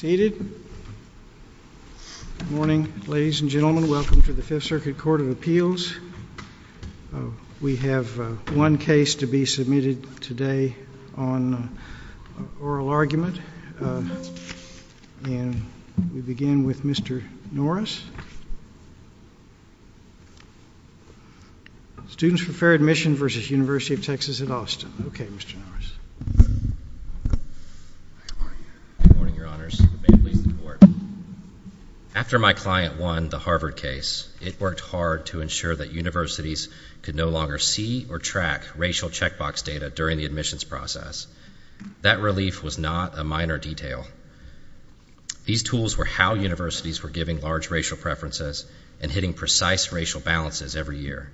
Good morning ladies and gentlemen, welcome to the 5th Circuit Court of Appeals. We have one case to be submitted today on oral argument, and we begin with Mr. Norris. Students for Fair Admissions v. University of Texas at Austin, okay Mr. Norris. Good morning your honors, the bailiff please report. After my client won the Harvard case, it worked hard to ensure that universities could no longer see or track racial checkbox data during the admissions process. That relief was not a minor detail. These tools were how universities were giving large racial preferences and hitting precise racial balances every year.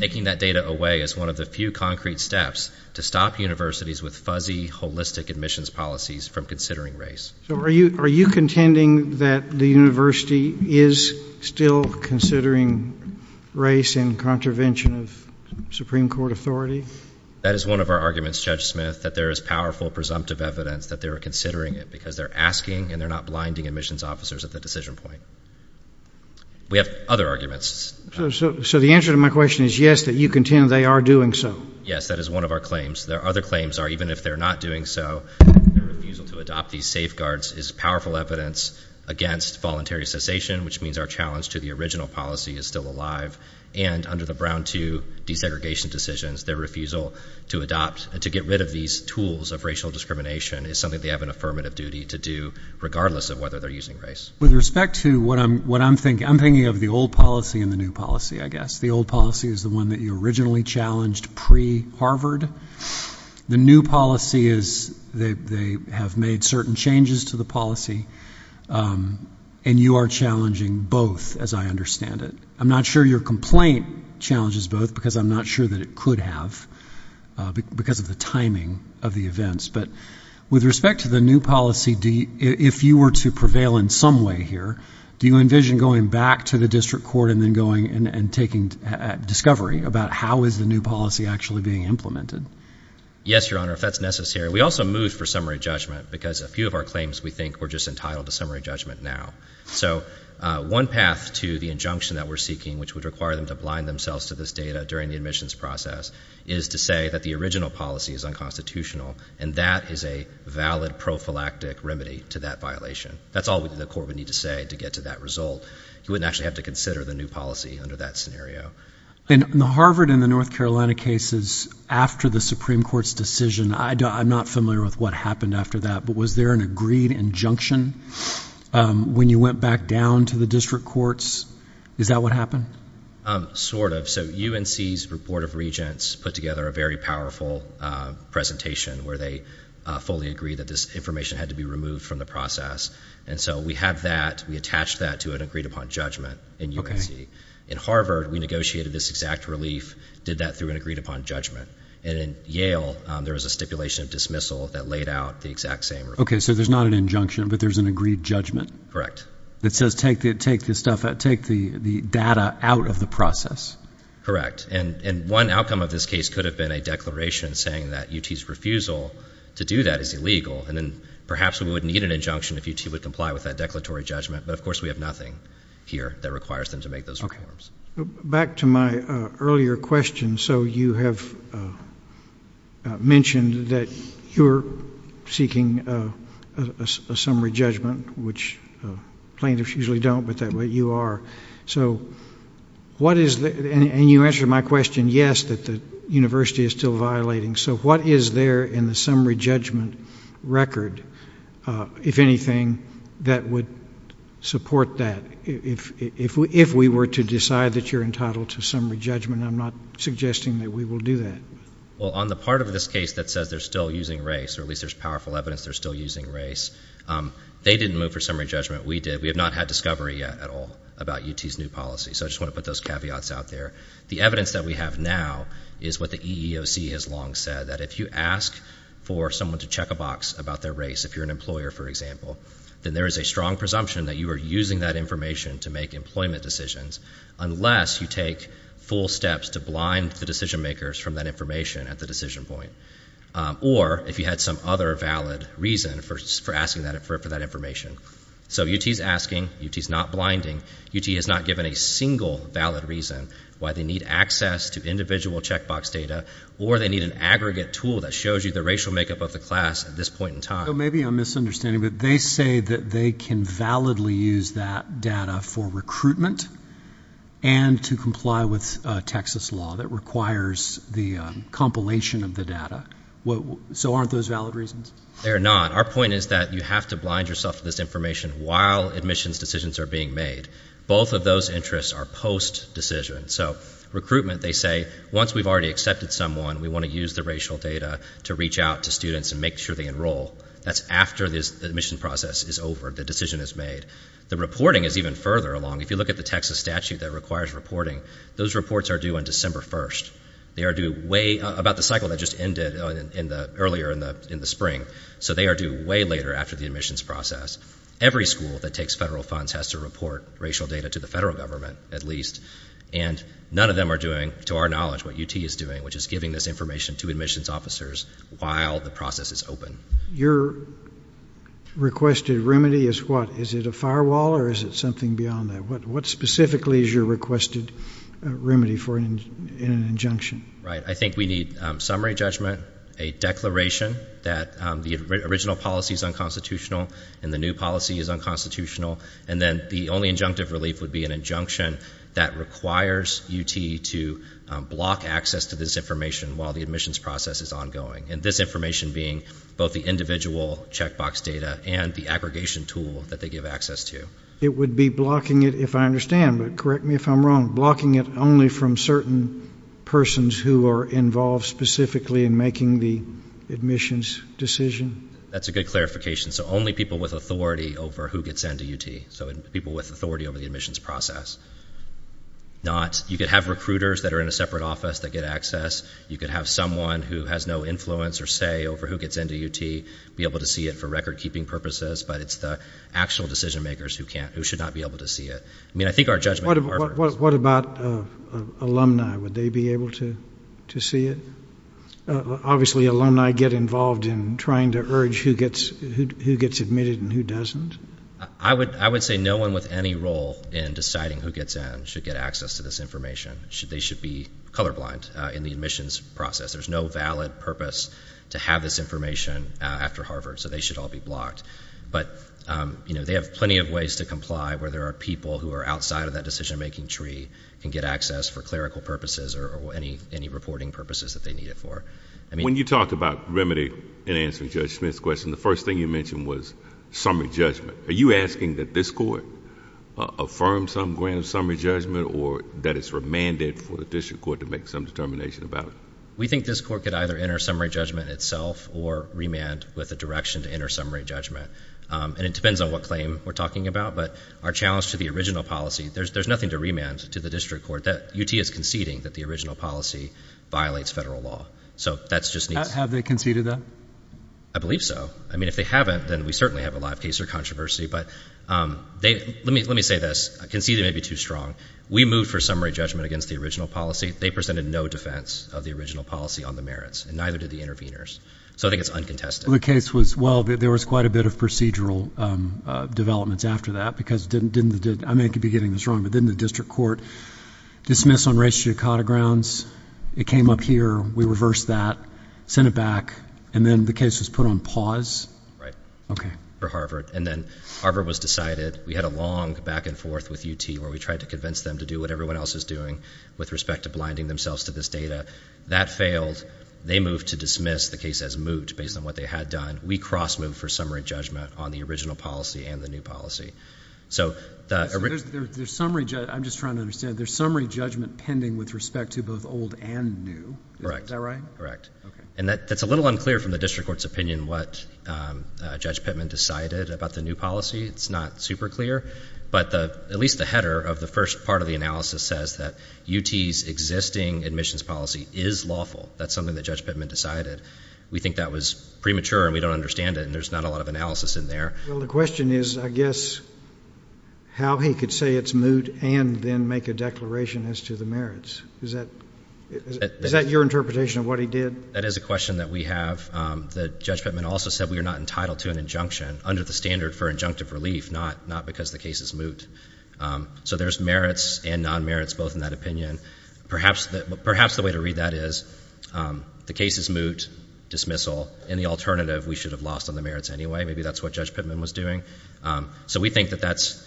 Taking that data away is one of the few concrete steps to stop universities with fuzzy, holistic admissions policies from considering race. So are you contending that the university is still considering race in contravention of Supreme Court authority? That is one of our arguments Judge Smith, that there is powerful presumptive evidence that they are considering it because they're asking and they're not blinding admissions officers at the decision point. We have other arguments. So the answer to my question is yes, that you contend they are doing so? Yes, that is one of our claims. There are other claims are even if they're not doing so, their refusal to adopt these safeguards is powerful evidence against voluntary cessation, which means our challenge to the original policy is still alive. And under the Brown II desegregation decisions, their refusal to adopt and to get rid of these tools of racial discrimination is something they have an affirmative duty to do, regardless of whether they're using race. With respect to what I'm thinking, I'm thinking of the old policy and the new policy, I guess. The old policy is the one that you originally challenged pre-Harvard. The new policy is they have made certain changes to the policy, and you are challenging both, as I understand it. I'm not sure your complaint challenges both because I'm not sure that it could have because of the timing of the events. But with respect to the new policy, if you were to prevail in some way here, do you envision going back to the district court and then going and taking discovery about how is the new policy actually being implemented? Yes, Your Honor, if that's necessary. We also moved for summary judgment because a few of our claims we think were just entitled to summary judgment now. So one path to the injunction that we're seeking, which would require them to blind themselves to this data during the admissions process, is to say that the original policy is unconstitutional, and that is a valid prophylactic remedy to that violation. That's all the court would need to say to get to that result. You wouldn't actually have to consider the new policy under that scenario. In the Harvard and the North Carolina cases, after the Supreme Court's decision, I'm not familiar with what happened after that, but was there an agreed injunction when you went back down to the district courts? Is that what happened? Sort of. So UNC's Board of Regents put together a very powerful presentation where they fully agreed that this information had to be removed from the process. And so we have that. We attached that to an agreed upon judgment in UNC. In Harvard, we negotiated this exact relief, did that through an agreed upon judgment. And in Yale, there was a stipulation of dismissal that laid out the exact same. Okay. So there's not an injunction, but there's an agreed judgment? That says take the data out of the process? Correct. And one outcome of this case could have been a declaration saying that UT's refusal to do that is illegal. And then perhaps we wouldn't need an injunction if UT would comply with that declaratory judgment, but of course we have nothing here that requires them to make those reforms. Okay. Back to my earlier question. So you have mentioned that you're seeking a summary judgment, which plaintiffs usually don't, but that's what you are. And you answered my question, yes, that the university is still violating. So what is there in the summary judgment record, if anything, that would support that? If we were to decide that you're entitled to summary judgment, I'm not suggesting that we will do that. Well, on the part of this case that says they're still using race, or at least there's powerful evidence they're still using race, they didn't move for summary judgment. We did. We have not had discovery yet at all about UT's new policy. So I just want to put those caveats out there. The evidence that we have now is what the EEOC has long said, that if you ask for someone to check a box about their race, if you're an employer, for example, then there is a strong presumption that you are using that information to make employment decisions, unless you take full steps to blind the decision makers from that information at the decision point, or if you had some other valid reason for asking for that information. So UT is asking. UT is not blinding. UT has not given a single valid reason why they need access to individual checkbox data or they need an aggregate tool that shows you the racial makeup of the class at this point in time. So maybe I'm misunderstanding, but they say that they can validly use that data for recruitment and to comply with Texas law that requires the compilation of the data. So aren't those valid reasons? They are not. Our point is that you have to blind yourself to this information while admissions decisions are being made. Both of those interests are post-decision. So recruitment, they say, once we've already accepted someone, we want to use the racial data to reach out to students and make sure they enroll. That's after the admission process is over, the decision is made. The reporting is even further along. If you look at the Texas statute that requires reporting, those reports are due on December 1st. They are due about the cycle that just ended earlier in the spring. So they are due way later after the admissions process. Every school that takes federal funds has to report racial data to the federal government at least, and none of them are doing, to our knowledge, what UT is doing, which is giving this information to admissions officers while the process is open. Your requested remedy is what? Is it a firewall or is it something beyond that? What specifically is your requested remedy in an injunction? I think we need summary judgment, a declaration that the original policy is unconstitutional and the new policy is unconstitutional, and then the only injunctive relief would be an injunction that requires UT to block access to this information while the admissions process is ongoing, and this information being both the individual checkbox data and the aggregation tool that they give access to. It would be blocking it, if I understand, but correct me if I'm wrong, blocking it only from certain persons who are involved specifically in making the admissions decision? That's a good clarification. So only people with authority over who gets into UT, so people with authority over the admissions process. You could have recruiters that are in a separate office that get access. You could have someone who has no influence or say over who gets into UT be able to see it for record-keeping purposes, but it's the actual decision-makers who should not be able to see it. I mean, I think our judgment at Harvard is- What about alumni? Would they be able to see it? Obviously, alumni get involved in trying to urge who gets admitted and who doesn't. I would say no one with any role in deciding who gets in should get access to this information. They should be colorblind in the admissions process. There's no valid purpose to have this information after Harvard, so they should all be blocked. But they have plenty of ways to comply where there are people who are outside of that decision-making tree and get access for clerical purposes or any reporting purposes that they need it for. When you talked about remedy in answering Judge Smith's question, the first thing you mentioned was summary judgment. Are you asking that this court affirm some grand summary judgment or that it's remanded for the district court to make some determination about it? We think this court could either enter summary judgment itself or remand with a direction to enter summary judgment, and it depends on what claim we're talking about. But our challenge to the original policy, there's nothing to remand to the district court. UT is conceding that the original policy violates federal law. Have they conceded that? I believe so. I mean, if they haven't, then we certainly have a lot of case or controversy. But let me say this. Conceding may be too strong. We moved for summary judgment against the original policy. They presented no defense of the original policy on the merits, and neither did the interveners. So I think it's uncontested. Well, the case was, well, there was quite a bit of procedural developments after that, because didn't the district court dismiss on racial dichotomy grounds? It came up here. We reversed that. Sent it back. And then the case was put on pause? Right. Okay. For Harvard. And then Harvard was decided. We had a long back and forth with UT where we tried to convince them to do what everyone else is doing with respect to blinding themselves to this data. That failed. They moved to dismiss. The case has moved based on what they had done. We cross-moved for summary judgment on the original policy and the new policy. So the original — So there's summary — I'm just trying to understand. There's summary judgment pending with respect to both old and new. Correct. Is that right? Correct. Okay. And that's a little unclear from the district court's opinion what Judge Pittman decided about the new policy. It's not super clear. But at least the header of the first part of the analysis says that UT's existing admissions policy is lawful. That's something that Judge Pittman decided. We think that was premature, and we don't understand it, and there's not a lot of analysis in there. Well, the question is, I guess, how he could say it's moot and then make a declaration as to the merits. Is that your interpretation of what he did? That is a question that we have. Judge Pittman also said we are not entitled to an injunction under the standard for injunctive relief, not because the case is moot. So there's merits and non-merits both in that opinion. Perhaps the way to read that is the case is moot, dismissal, and the alternative, we should have lost on the merits anyway. Maybe that's what Judge Pittman was doing. So we think that that's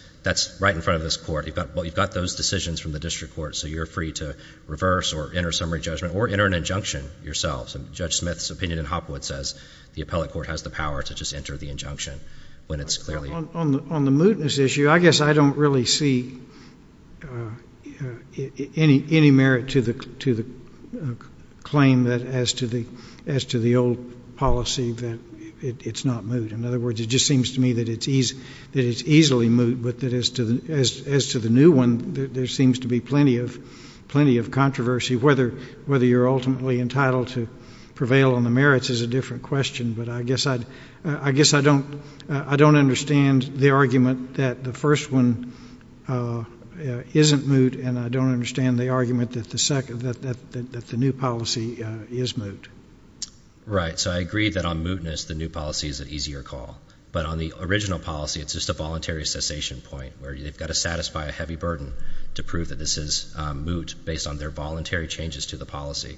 right in front of this court. You've got those decisions from the district court, so you're free to reverse or enter summary judgment or enter an injunction yourselves. And Judge Smith's opinion in Hopwood says the appellate court has the power to just enter the injunction when it's clearly. On the mootness issue, I guess I don't really see any merit to the claim that as to the old policy that it's not moot. In other words, it just seems to me that it's easily moot, but as to the new one, there seems to be plenty of controversy, whether you're ultimately entitled to prevail on the merits is a different question. But I guess I don't understand the argument that the first one isn't moot, and I don't understand the argument that the new policy is moot. Right. So I agree that on mootness the new policy is an easier call. But on the original policy, it's just a voluntary cessation point, where you've got to satisfy a heavy burden to prove that this is moot based on their voluntary changes to the policy.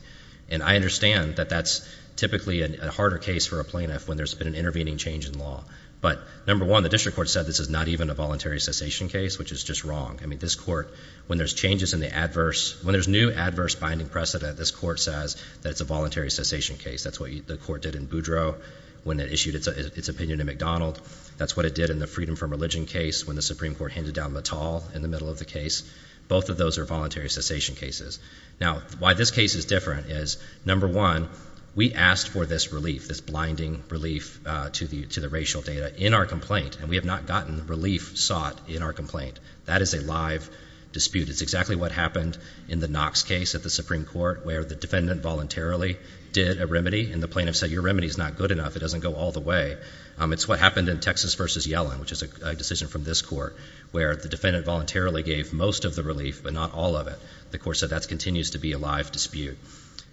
And I understand that that's typically a harder case for a plaintiff when there's been an intervening change in law. But, number one, the district court said this is not even a voluntary cessation case, which is just wrong. I mean, this court, when there's changes in the adverse, when there's new adverse binding precedent, this court says that it's a voluntary cessation case. That's what the court did in Boudreau when it issued its opinion in McDonald. That's what it did in the freedom from religion case when the Supreme Court handed down Mattall in the middle of the case. Both of those are voluntary cessation cases. Now, why this case is different is, number one, we asked for this relief, this blinding relief to the racial data in our complaint, and we have not gotten relief sought in our complaint. That is a live dispute. It's exactly what happened in the Knox case at the Supreme Court where the defendant voluntarily did a remedy, and the plaintiff said your remedy is not good enough, it doesn't go all the way. It's what happened in Texas v. Yellen, which is a decision from this court, where the defendant voluntarily gave most of the relief but not all of it. The court said that continues to be a live dispute.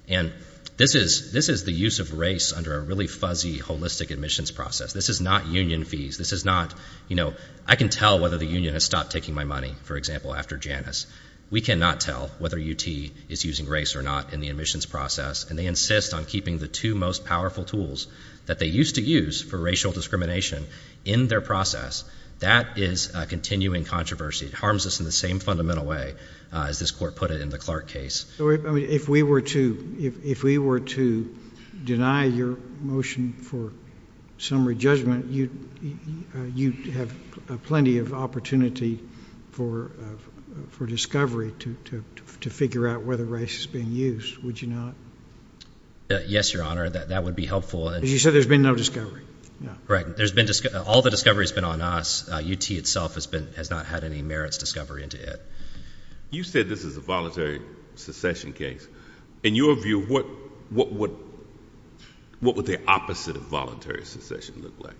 And this is the use of race under a really fuzzy, holistic admissions process. This is not union fees. This is not, you know, I can tell whether the union has stopped taking my money, for example, after Janus. We cannot tell whether UT is using race or not in the admissions process, and they insist on keeping the two most powerful tools that they used to use for racial discrimination in their process. That is a continuing controversy. It harms us in the same fundamental way as this court put it in the Clark case. If we were to deny your motion for summary judgment, you'd have plenty of opportunity for discovery to figure out whether race is being used, would you not? Yes, Your Honor, that would be helpful. You said there's been no discovery. Correct. All the discovery has been on us. UT itself has not had any merits discovery into it. You said this is a voluntary secession case. In your view, what would the opposite of voluntary secession look like?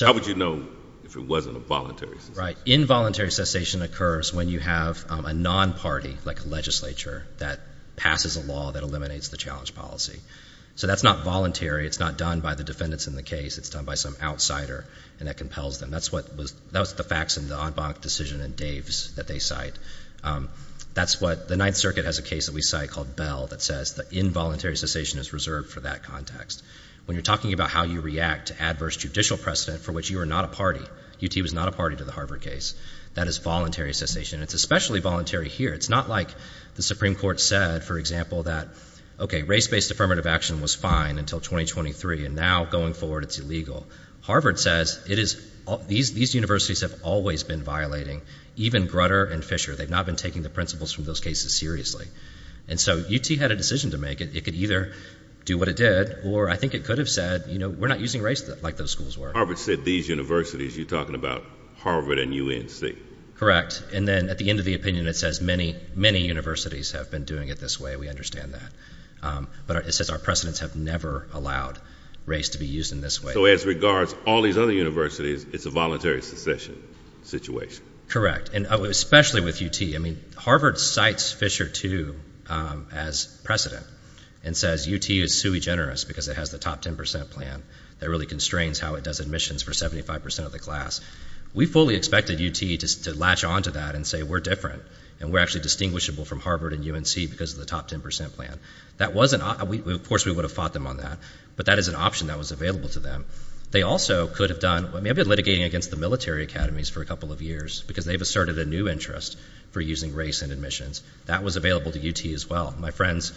How would you know if it wasn't a voluntary secession? Right. Involuntary secession occurs when you have a non-party, like a legislature, that passes a law that eliminates the challenge policy. So that's not voluntary. It's not done by the defendants in the case. It's done by some outsider, and that compels them. That was the facts in the Aud Bonnock decision and Dave's that they cite. The Ninth Circuit has a case that we cite called Bell that says that involuntary secession is reserved for that context. When you're talking about how you react to adverse judicial precedent for which you are not a party, UT was not a party to the Harvard case, that is voluntary secession, and it's especially voluntary here. It's not like the Supreme Court said, for example, that race-based affirmative action was fine until 2023, and now, going forward, it's illegal. Harvard says these universities have always been violating, even Grutter and Fisher. They've not been taking the principles from those cases seriously, and so UT had a decision to make. It could either do what it did, or I think it could have said, you know, we're not using race like those schools were. Harvard said these universities. You're talking about Harvard and UNC. Correct, and then at the end of the opinion, it says many, many universities have been doing it this way. We understand that, but it says our precedents have never allowed race to be used in this way. So as regards all these other universities, it's a voluntary secession situation. Correct, and especially with UT. I mean, Harvard cites Fisher, too, as precedent and says UT is sui generis because it has the top 10% plan that really constrains how it does admissions for 75% of the class. We fully expected UT to latch onto that and say we're different, and we're actually distinguishable from Harvard and UNC because of the top 10% plan. Of course, we would have fought them on that, but that is an option that was available to them. They also could have done, I mean, I've been litigating against the military academies for a couple of years because they've asserted a new interest for using race in admissions. That was available to UT as well. My friends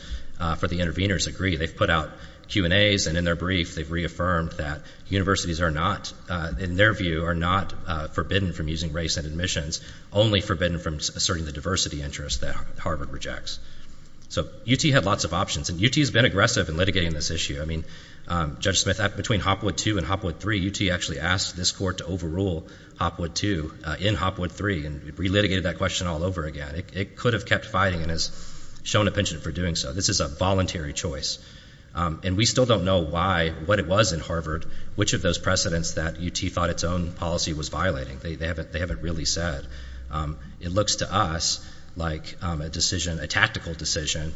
for the interveners agree. They've put out Q&As, and in their brief, they've reaffirmed that universities are not, in their view, are not forbidden from using race in admissions, only forbidden from asserting the diversity interest that Harvard rejects. So UT had lots of options, and UT has been aggressive in litigating this issue. I mean, Judge Smith, between Hopwood 2 and Hopwood 3, UT actually asked this court to overrule Hopwood 2 in Hopwood 3 and re-litigated that question all over again. It could have kept fighting and has shown a penchant for doing so. This is a voluntary choice, and we still don't know why, what it was in Harvard, which of those precedents that UT thought its own policy was violating. They haven't really said. It looks to us like a decision, a tactical decision,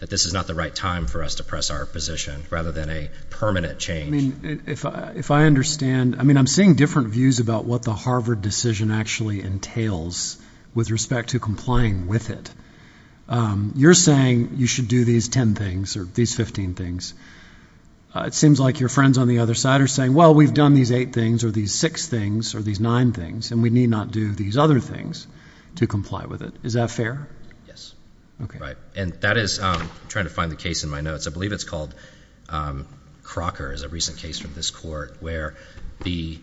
that this is not the right time for us to press our position rather than a permanent change. If I understand, I mean, I'm seeing different views about what the Harvard decision actually entails with respect to complying with it. You're saying you should do these 10 things or these 15 things. It seems like your friends on the other side are saying, well, we've done these 8 things or these 6 things or these 9 things, and we need not do these other things to comply with it. Is that fair? Yes. Right. And that is, I'm trying to find the case in my notes, I believe it's called Crocker is a recent case from this court where the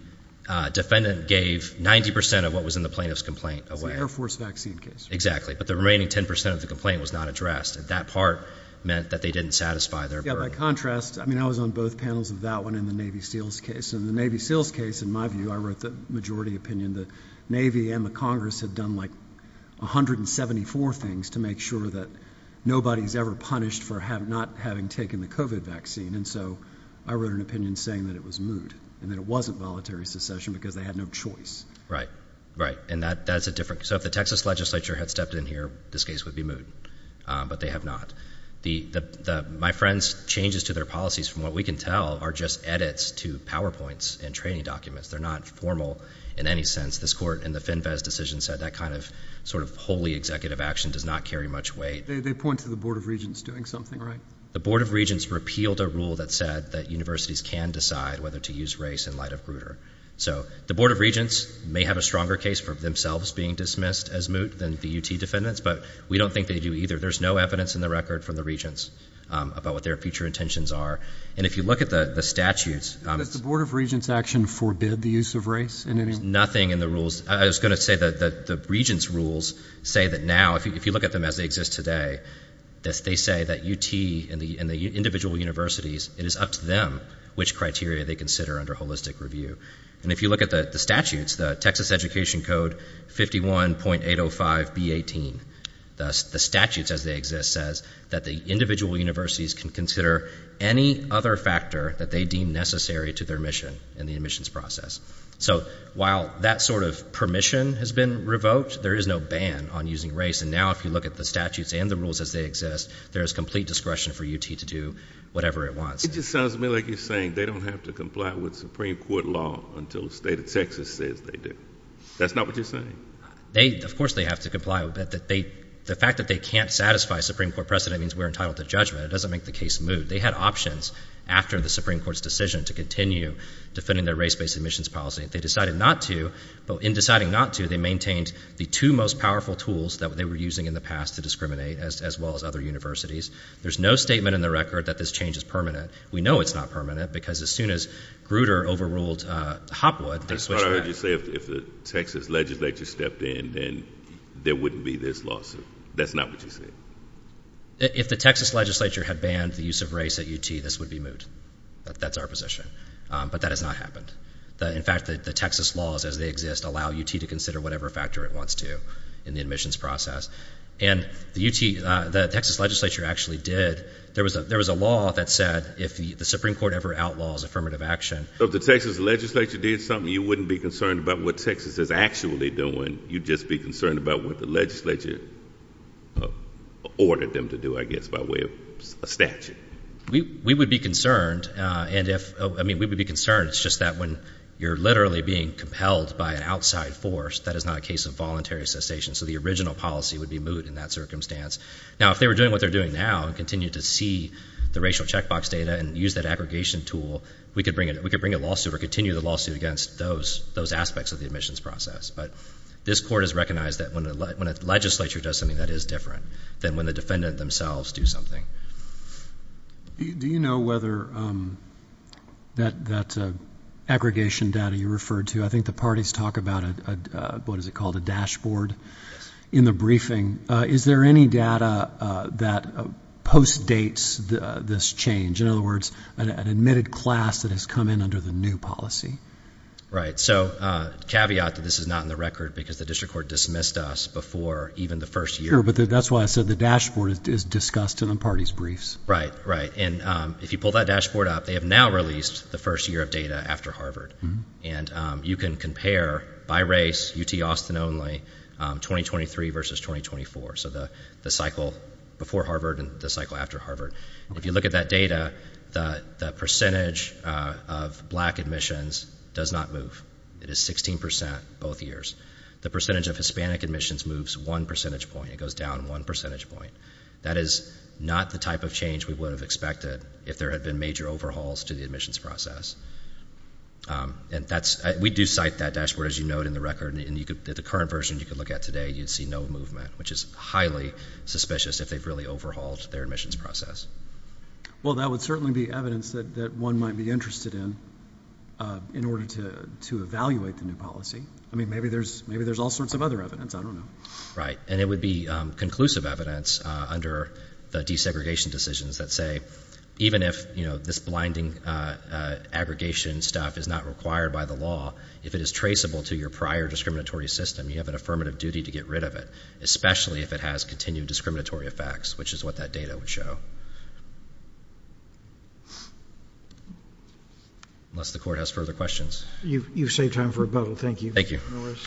defendant gave 90% of what was in the plaintiff's complaint away. It's an Air Force vaccine case. Exactly. But the remaining 10% of the complaint was not addressed, and that part meant that they didn't satisfy their burden. Yeah, by contrast, I mean, I was on both panels of that one in the Navy SEALs case. In the Navy SEALs case, in my view, I wrote the majority opinion, and the Navy and the Congress had done like 174 things to make sure that nobody's ever punished for not having taken the COVID vaccine, and so I wrote an opinion saying that it was moot and that it wasn't voluntary secession because they had no choice. Right. Right. And that's a different – so if the Texas legislature had stepped in here, this case would be moot, but they have not. My friend's changes to their policies, from what we can tell, are just edits to PowerPoints and training documents. They're not formal in any sense. This court in the FinVez decision said that kind of sort of wholly executive action does not carry much weight. They point to the Board of Regents doing something, right? The Board of Regents repealed a rule that said that universities can decide whether to use race in light of Grutter. So the Board of Regents may have a stronger case for themselves being dismissed as moot than the UT defendants, but we don't think they do either. There's no evidence in the record from the Regents about what their future intentions are. And if you look at the statutes – Does the Board of Regents' action forbid the use of race in any way? Nothing in the rules. I was going to say that the Regents' rules say that now, if you look at them as they exist today, they say that UT and the individual universities, it is up to them which criteria they consider under holistic review. And if you look at the statutes, the Texas Education Code 51.805B18, the statutes as they exist says that the individual universities can consider any other factor that they deem necessary to their mission in the admissions process. So while that sort of permission has been revoked, there is no ban on using race. And now if you look at the statutes and the rules as they exist, there is complete discretion for UT to do whatever it wants. It just sounds to me like you're saying they don't have to comply with Supreme Court law until the state of Texas says they do. That's not what you're saying? Of course they have to comply. The fact that they can't satisfy Supreme Court precedent means we're entitled to judgment. It doesn't make the case move. They had options after the Supreme Court's decision to continue defending their race-based admissions policy. They decided not to, but in deciding not to, they maintained the two most powerful tools that they were using in the past to discriminate as well as other universities. There's no statement in the record that this change is permanent. We know it's not permanent because as soon as Grutter overruled Hopwood, they switched back. That's what I heard you say. If the Texas legislature stepped in, then there wouldn't be this lawsuit. That's not what you're saying? If the Texas legislature had banned the use of race at UT, this would be moved. That's our position. But that has not happened. In fact, the Texas laws as they exist allow UT to consider whatever factor it wants to in the admissions process. And the Texas legislature actually did. There was a law that said if the Supreme Court ever outlaws affirmative action. So if the Texas legislature did something, you wouldn't be concerned about what Texas is actually doing. You'd just be concerned about what the legislature ordered them to do, I guess, by way of a statute. We would be concerned. I mean, we would be concerned. It's just that when you're literally being compelled by an outside force, that is not a case of voluntary cessation. So the original policy would be moved in that circumstance. Now, if they were doing what they're doing now and continue to see the racial checkbox data and use that aggregation tool, we could bring a lawsuit or continue the lawsuit against those aspects of the admissions process. But this court has recognized that when a legislature does something, that is different than when the defendant themselves do something. Do you know whether that aggregation data you referred to, I think the parties talk about what is it called, a dashboard? Yes. In the briefing. Is there any data that postdates this change? In other words, an admitted class that has come in under the new policy? Right. So caveat that this is not in the record because the district court dismissed us before even the first year. Sure, but that's why I said the dashboard is discussed in the parties' briefs. Right, right. And if you pull that dashboard up, they have now released the first year of data after Harvard. And you can compare by race, UT Austin only, 2023 versus 2024, so the cycle before Harvard and the cycle after Harvard. If you look at that data, the percentage of black admissions does not move. It is 16% both years. The percentage of Hispanic admissions moves one percentage point. It goes down one percentage point. That is not the type of change we would have expected if there had been major overhauls to the admissions process. And we do cite that dashboard, as you note in the record. The current version you could look at today, you'd see no movement, which is highly suspicious if they've really overhauled their admissions process. Well, that would certainly be evidence that one might be interested in in order to evaluate the new policy. I mean, maybe there's all sorts of other evidence. I don't know. Right. And it would be conclusive evidence under the desegregation decisions that say even if this blinding aggregation stuff is not required by the law, if it is traceable to your prior discriminatory system, you have an affirmative duty to get rid of it, especially if it has continued discriminatory effects, which is what that data would show. Unless the Court has further questions. You've saved time for rebuttal. Thank you. Thank you. Mr.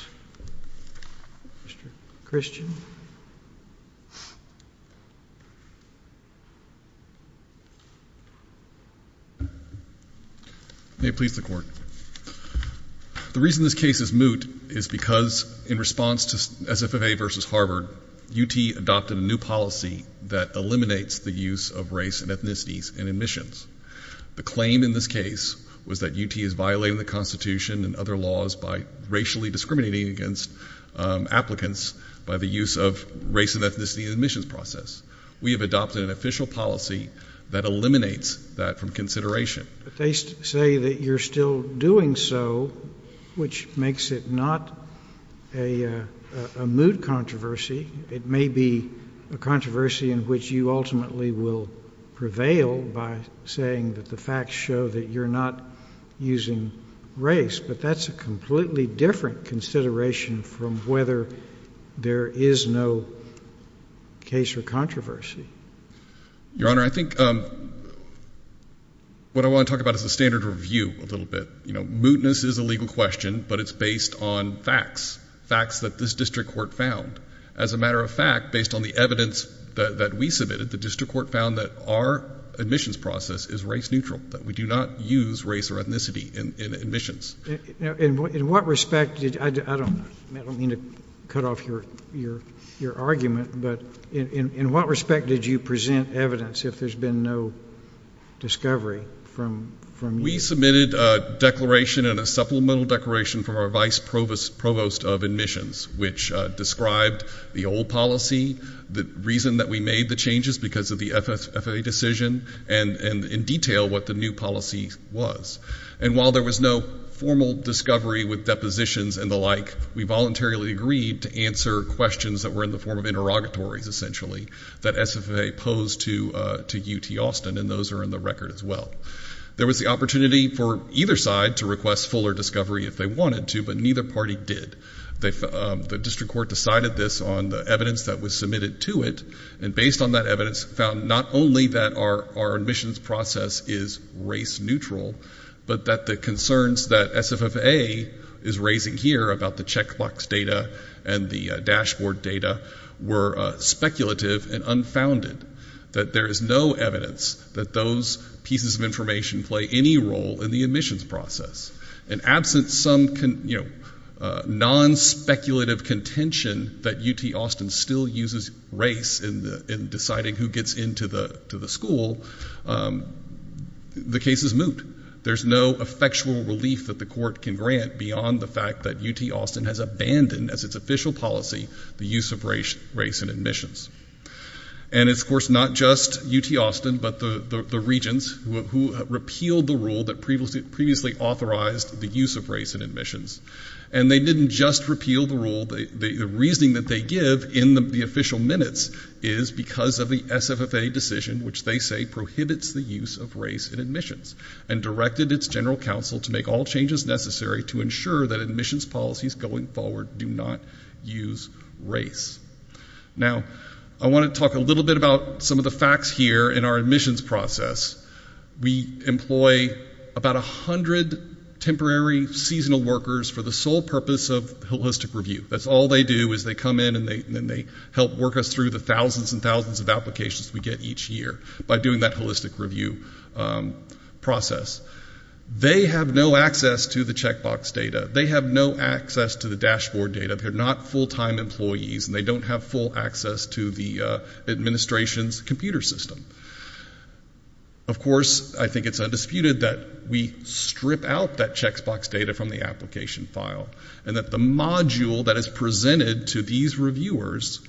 Christian. May it please the Court. The reason this case is moot is because in response to SFFA versus Harvard, UT adopted a new policy that eliminates the use of race and ethnicities in admissions. The claim in this case was that UT is violating the Constitution and other laws by racially discriminating against applicants by the use of race and ethnicity in the admissions process. We have adopted an official policy that eliminates that from consideration. But they say that you're still doing so, which makes it not a moot controversy. It may be a controversy in which you ultimately will prevail by saying that the facts show that you're not using race. But that's a completely different consideration from whether there is no case or controversy. Your Honor, I think what I want to talk about is a standard review a little bit. You know, mootness is a legal question, but it's based on facts, facts that this district court found. As a matter of fact, based on the evidence that we submitted, the district court found that our admissions process is race neutral, that we do not use race or ethnicity in admissions. In what respect did you present evidence, if there's been no discovery from you? We submitted a declaration and a supplemental declaration from our vice provost of admissions, which described the old policy, the reason that we made the changes because of the FFA decision, and in detail what the new policy was. And while there was no formal discovery with depositions and the like, we voluntarily agreed to answer questions that were in the form of interrogatories, essentially, that SFFA posed to UT Austin, and those are in the record as well. There was the opportunity for either side to request fuller discovery if they wanted to, but neither party did. The district court decided this on the evidence that was submitted to it, and based on that evidence found not only that our admissions process is race neutral, but that the concerns that SFFA is raising here about the checkbox data and the dashboard data were speculative and unfounded, that there is no evidence that those pieces of information play any role in the admissions process. And absent some non-speculative contention that UT Austin still uses race in deciding who gets into the school, the case is moot. There's no effectual relief that the court can grant beyond the fact that UT Austin has abandoned, as its official policy, the use of race in admissions. And it's, of course, not just UT Austin, but the regents who repealed the rule that previously authorized the use of race in admissions. And they didn't just repeal the rule. The reasoning that they give in the official minutes is because of the SFFA decision, which they say prohibits the use of race in admissions, and directed its general counsel to make all changes necessary to ensure that admissions policies going forward do not use race. Now, I want to talk a little bit about some of the facts here in our admissions process. We employ about 100 temporary seasonal workers for the sole purpose of holistic review. That's all they do is they come in and they help work us through the thousands and thousands of applications we get each year by doing that holistic review process. They have no access to the checkbox data. They have no access to the dashboard data. They're not full-time employees, and they don't have full access to the administration's computer system. Of course, I think it's undisputed that we strip out that checkbox data from the application file and that the module that is presented to these reviewers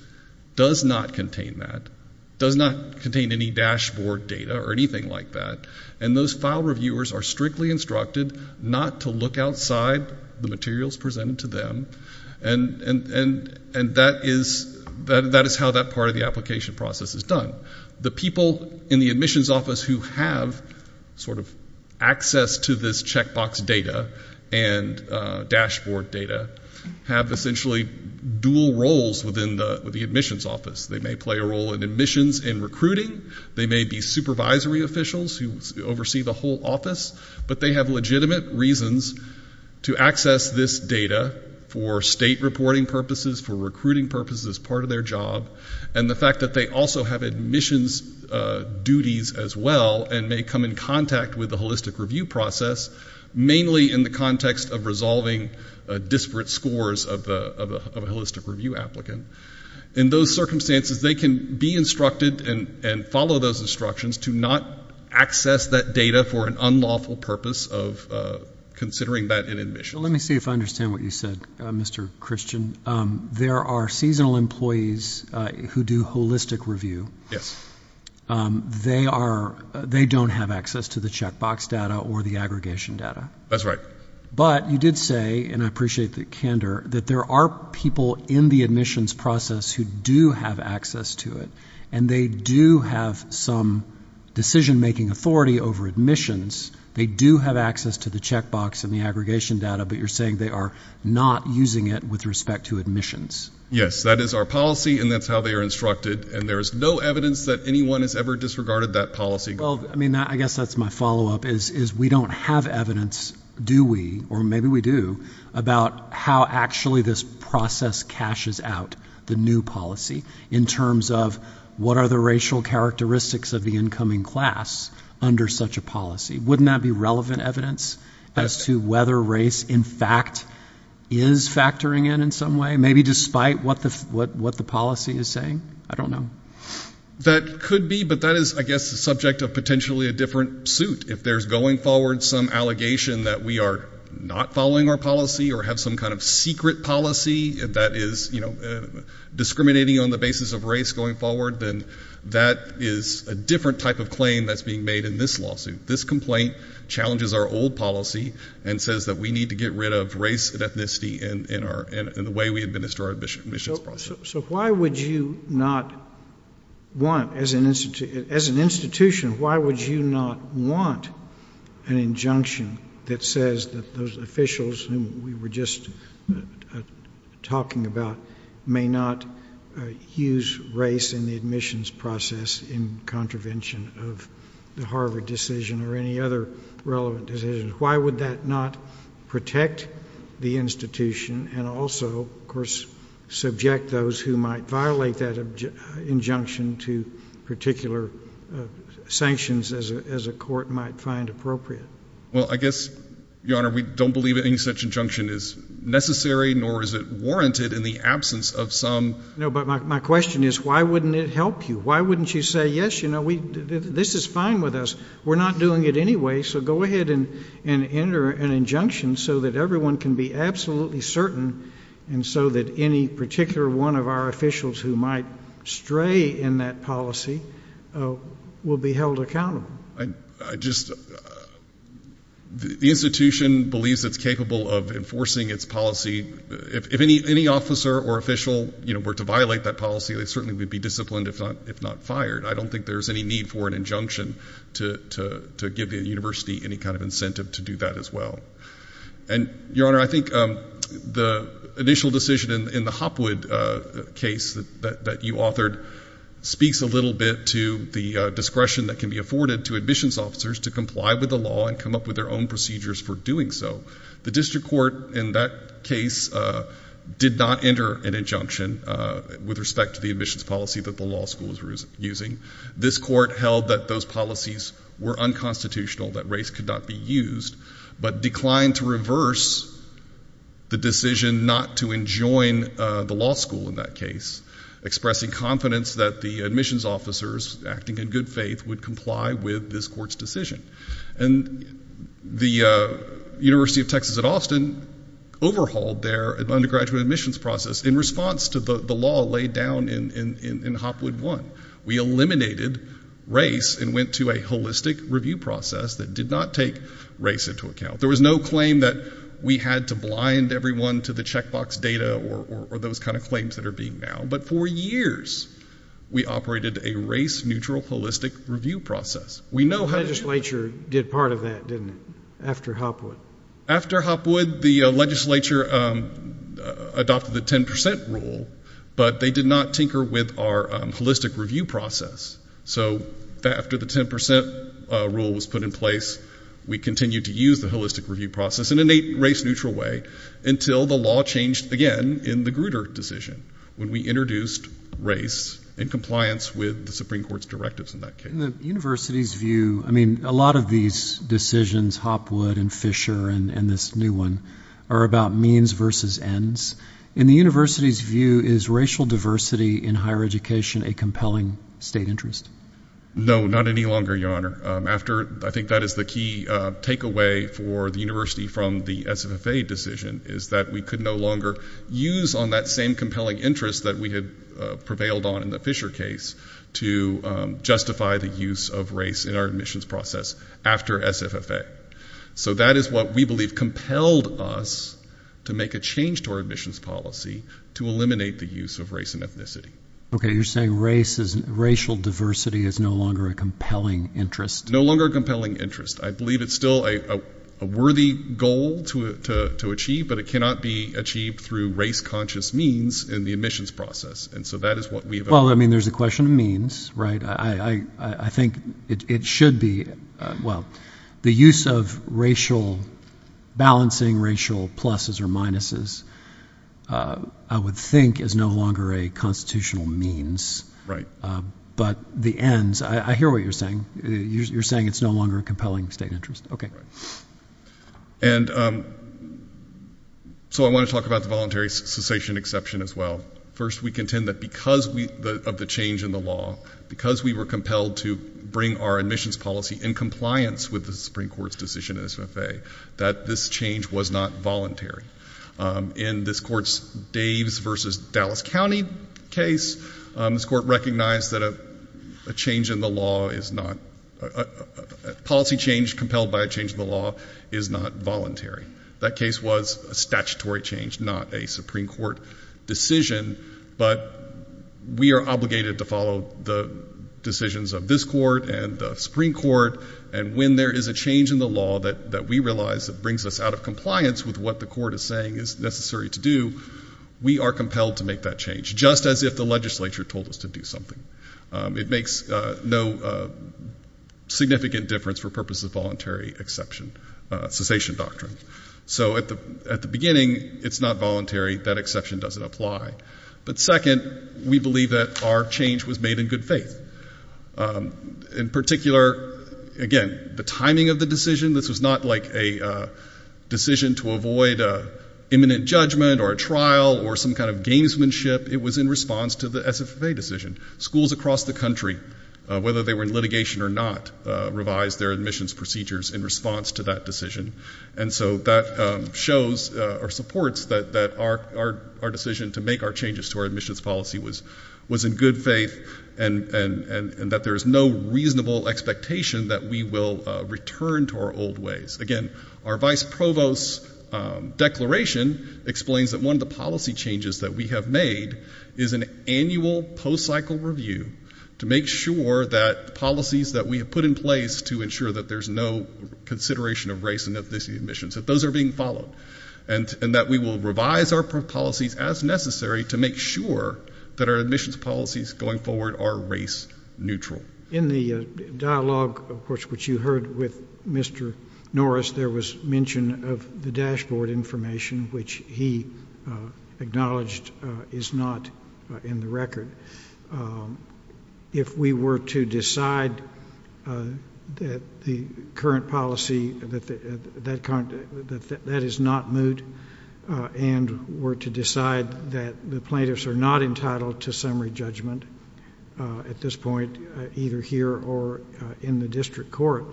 does not contain that, does not contain any dashboard data or anything like that. And those file reviewers are strictly instructed not to look outside the materials presented to them, and that is how that part of the application process is done. The people in the admissions office who have sort of access to this checkbox data and dashboard data have essentially dual roles within the admissions office. They may play a role in admissions and recruiting. They may be supervisory officials who oversee the whole office, but they have legitimate reasons to access this data for state reporting purposes, for recruiting purposes as part of their job, and the fact that they also have admissions duties as well and may come in contact with the holistic review process, mainly in the context of resolving disparate scores of a holistic review applicant. In those circumstances, they can be instructed and follow those instructions to not access that data for an unlawful purpose of considering that in admissions. Let me see if I understand what you said, Mr. Christian. There are seasonal employees who do holistic review. Yes. They don't have access to the checkbox data or the aggregation data. That's right. But you did say, and I appreciate the candor, that there are people in the admissions process who do have access to it, and they do have some decision-making authority over admissions. They do have access to the checkbox and the aggregation data, but you're saying they are not using it with respect to admissions. Yes, that is our policy, and that's how they are instructed, and there is no evidence that anyone has ever disregarded that policy. I guess that's my follow-up, is we don't have evidence, do we, or maybe we do, about how actually this process caches out the new policy in terms of what are the racial characteristics of the incoming class under such a policy. Wouldn't that be relevant evidence as to whether race, in fact, is factoring in in some way, maybe despite what the policy is saying? I don't know. That could be, but that is, I guess, the subject of potentially a different suit. If there's going forward some allegation that we are not following our policy or have some kind of secret policy that is discriminating on the basis of race going forward, then that is a different type of claim that's being made in this lawsuit. This complaint challenges our old policy and says that we need to get rid of race and ethnicity in the way we administer our admissions process. So why would you not want, as an institution, why would you not want an injunction that says that those officials whom we were just talking about may not use race in the admissions process in contravention of the Harvard decision or any other relevant decision? Why would that not protect the institution and also, of course, subject those who might violate that injunction to particular sanctions as a court might find appropriate? Well, I guess, Your Honor, we don't believe any such injunction is necessary, nor is it warranted in the absence of some— No, but my question is, why wouldn't it help you? Why wouldn't you say, yes, you know, this is fine with us. We're not doing it anyway, so go ahead and enter an injunction so that everyone can be absolutely certain and so that any particular one of our officials who might stray in that policy will be held accountable? I just—the institution believes it's capable of enforcing its policy. If any officer or official were to violate that policy, they certainly would be disciplined if not fired. I don't think there's any need for an injunction to give the university any kind of incentive to do that as well. And, Your Honor, I think the initial decision in the Hopwood case that you authored speaks a little bit to the discretion that can be afforded to admissions officers to comply with the law and come up with their own procedures for doing so. The district court in that case did not enter an injunction with respect to the admissions policy that the law school was using. This court held that those policies were unconstitutional, that race could not be used, but declined to reverse the decision not to enjoin the law school in that case, expressing confidence that the admissions officers, acting in good faith, would comply with this court's decision. And the University of Texas at Austin overhauled their undergraduate admissions process in response to the law laid down in Hopwood I. We eliminated race and went to a holistic review process that did not take race into account. There was no claim that we had to blind everyone to the checkbox data or those kind of claims that are being now. But for years, we operated a race-neutral holistic review process. The legislature did part of that, didn't it, after Hopwood? After Hopwood, the legislature adopted the 10 percent rule, but they did not tinker with our holistic review process. So after the 10 percent rule was put in place, we continued to use the holistic review process in a race-neutral way until the law changed again in the Grutter decision when we introduced race in compliance with the Supreme Court's directives in that case. In the university's view, I mean, a lot of these decisions, Hopwood and Fisher and this new one, are about means versus ends. In the university's view, is racial diversity in higher education a compelling state interest? No, not any longer, Your Honor. I think that is the key takeaway for the university from the SFFA decision, is that we could no longer use on that same compelling interest that we had prevailed on in the Fisher case to justify the use of race in our admissions process after SFFA. So that is what we believe compelled us to make a change to our admissions policy to eliminate the use of race and ethnicity. Okay, you're saying racial diversity is no longer a compelling interest? No longer a compelling interest. I believe it's still a worthy goal to achieve, but it cannot be achieved through race-conscious means in the admissions process. Well, I mean, there's a question of means, right? I think it should be. Well, the use of balancing racial pluses or minuses I would think is no longer a constitutional means. Right. But the ends, I hear what you're saying. You're saying it's no longer a compelling state interest. Okay. And so I want to talk about the voluntary cessation exception as well. First, we contend that because of the change in the law, because we were compelled to bring our admissions policy in compliance with the Supreme Court's decision in SFFA, that this change was not voluntary. In this Court's Daves v. Dallas County case, this Court recognized that a policy change compelled by a change in the law is not voluntary. That case was a statutory change, not a Supreme Court decision, but we are obligated to follow the decisions of this Court and the Supreme Court, and when there is a change in the law that we realize that brings us out of compliance with what the Court is saying is necessary to do, we are compelled to make that change, just as if the legislature told us to do something. It makes no significant difference for purposes of voluntary exception, cessation doctrine. So at the beginning, it's not voluntary. That exception doesn't apply. But second, we believe that our change was made in good faith. In particular, again, the timing of the decision, this was not like a decision to avoid imminent judgment or a trial or some kind of gamesmanship. It was in response to the SFFA decision. Schools across the country, whether they were in litigation or not, revised their admissions procedures in response to that decision, and so that shows or supports that our decision to make our changes to our admissions policy was in good faith and that there is no reasonable expectation that we will return to our old ways. Again, our vice provost's declaration explains that one of the policy changes that we have made is an annual post-cycle review to make sure that policies that we have put in place to ensure that there's no consideration of race and ethnicity admissions, that those are being followed, and that we will revise our policies as necessary to make sure that our admissions policies going forward are race neutral. In the dialogue, of course, which you heard with Mr. Norris, there was mention of the dashboard information, which he acknowledged is not in the record. If we were to decide that the current policy, that that is not moot, and were to decide that the plaintiffs are not entitled to summary judgment at this point, either here or in the district court,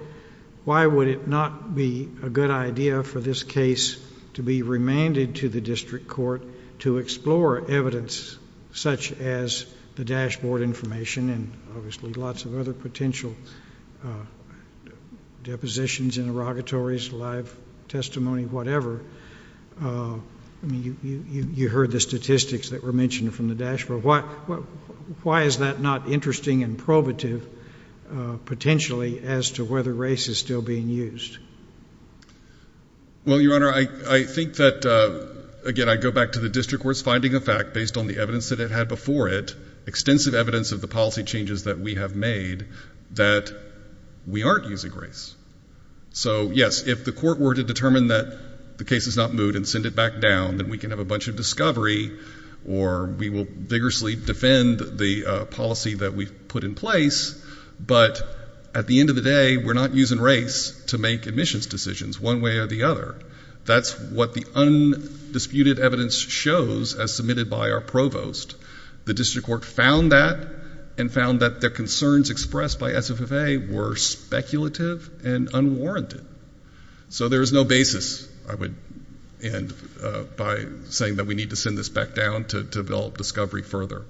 why would it not be a good idea for this case to be remanded to the district court to explore evidence such as the dashboard information and obviously lots of other potential depositions and interrogatories, live testimony, whatever. You heard the statistics that were mentioned from the dashboard. Why is that not interesting and probative potentially as to whether race is still being used? Well, Your Honor, I think that, again, I go back to the district court's finding of fact, based on the evidence that it had before it, of the policy changes that we have made, that we aren't using race. So, yes, if the court were to determine that the case is not moot and send it back down, then we can have a bunch of discovery or we will vigorously defend the policy that we've put in place, but at the end of the day, we're not using race to make admissions decisions one way or the other. That's what the undisputed evidence shows as submitted by our provost. The district court found that and found that the concerns expressed by SFFA were speculative and unwarranted. So there is no basis, I would end by saying that we need to send this back down to develop discovery further.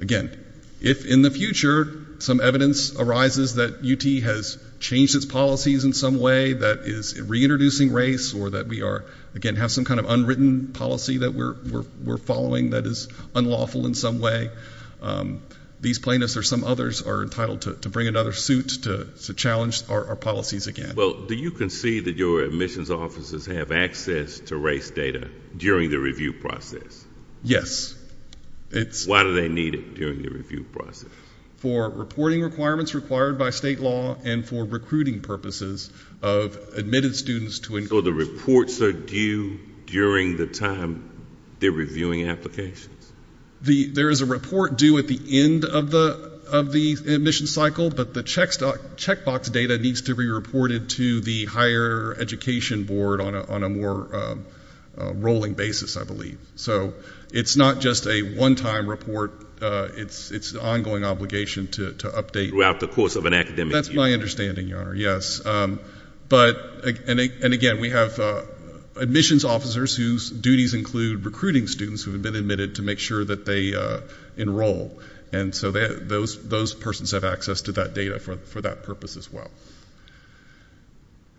Again, if in the future some evidence arises that UT has changed its policies in some way, that is reintroducing race or that we are, again, have some kind of unwritten policy that we're following that is unlawful in some way, these plaintiffs or some others are entitled to bring another suit to challenge our policies again. Well, do you concede that your admissions officers have access to race data during the review process? Yes. Why do they need it during the review process? For reporting requirements required by state law and for recruiting purposes of admitted students. So the reports are due during the time they're reviewing applications? There is a report due at the end of the admission cycle, but the checkbox data needs to be reported to the higher education board on a more rolling basis, I believe. So it's not just a one-time report. It's an ongoing obligation to update. Throughout the course of an academic year. That's my understanding, Your Honor, yes. But, and again, we have admissions officers whose duties include recruiting students who have been admitted to make sure that they enroll. And so those persons have access to that data for that purpose as well.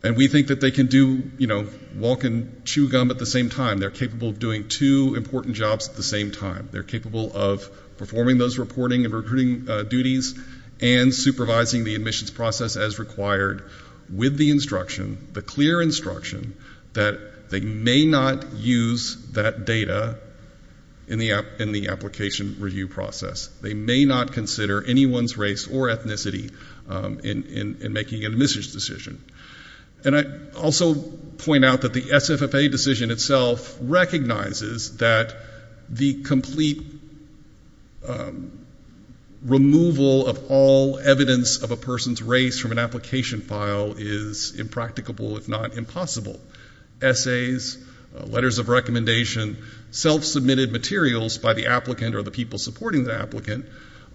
And we think that they can do, you know, walk and chew gum at the same time. They're capable of doing two important jobs at the same time. They're capable of performing those reporting and recruiting duties and supervising the admissions process as required with the instruction, the clear instruction, that they may not use that data in the application review process. They may not consider anyone's race or ethnicity in making an admissions decision. And I also point out that the SFFA decision itself recognizes that the complete removal of all evidence of a person's race from an application file is impracticable, if not impossible. Essays, letters of recommendation, self-submitted materials by the applicant or the people supporting the applicant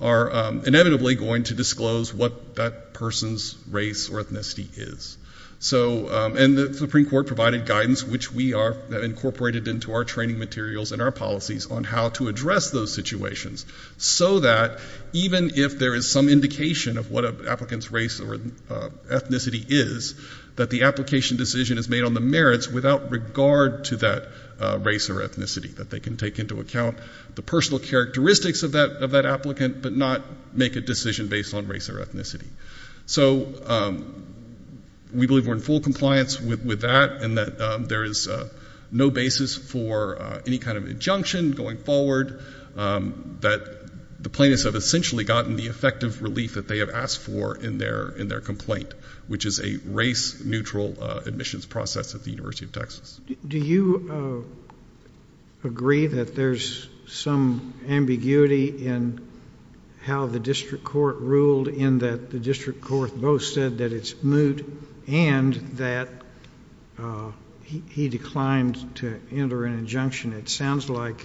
are inevitably going to disclose what that person's race or ethnicity is. So, and the Supreme Court provided guidance, which we have incorporated into our training materials and our policies on how to address those situations so that even if there is some indication of what an applicant's race or ethnicity is, that the application decision is made on the merits without regard to that race or ethnicity, that they can take into account the personal characteristics of that applicant but not make a decision based on race or ethnicity. So we believe we're in full compliance with that and that there is no basis for any kind of injunction going forward, that the plaintiffs have essentially gotten the effective relief that they have asked for in their complaint, which is a race-neutral admissions process at the University of Texas. Do you agree that there's some ambiguity in how the district court ruled in that the district court both said that it's moot and that he declined to enter an injunction? It sounds like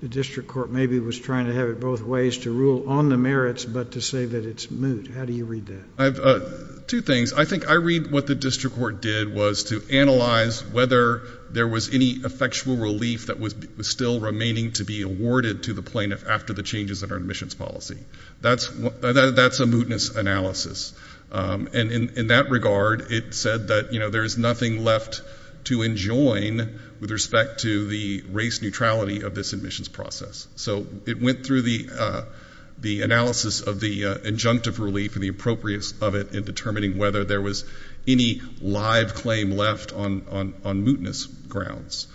the district court maybe was trying to have it both ways, to rule on the merits but to say that it's moot. How do you read that? Two things. I think I read what the district court did was to analyze whether there was any effectual relief that was still remaining to be awarded to the plaintiff after the changes in our admissions policy. That's a mootness analysis. And in that regard, it said that there's nothing left to enjoin with respect to the race neutrality of this admissions process. So it went through the analysis of the injunctive relief and the appropriateness of it in determining whether there was any live claim left on mootness grounds.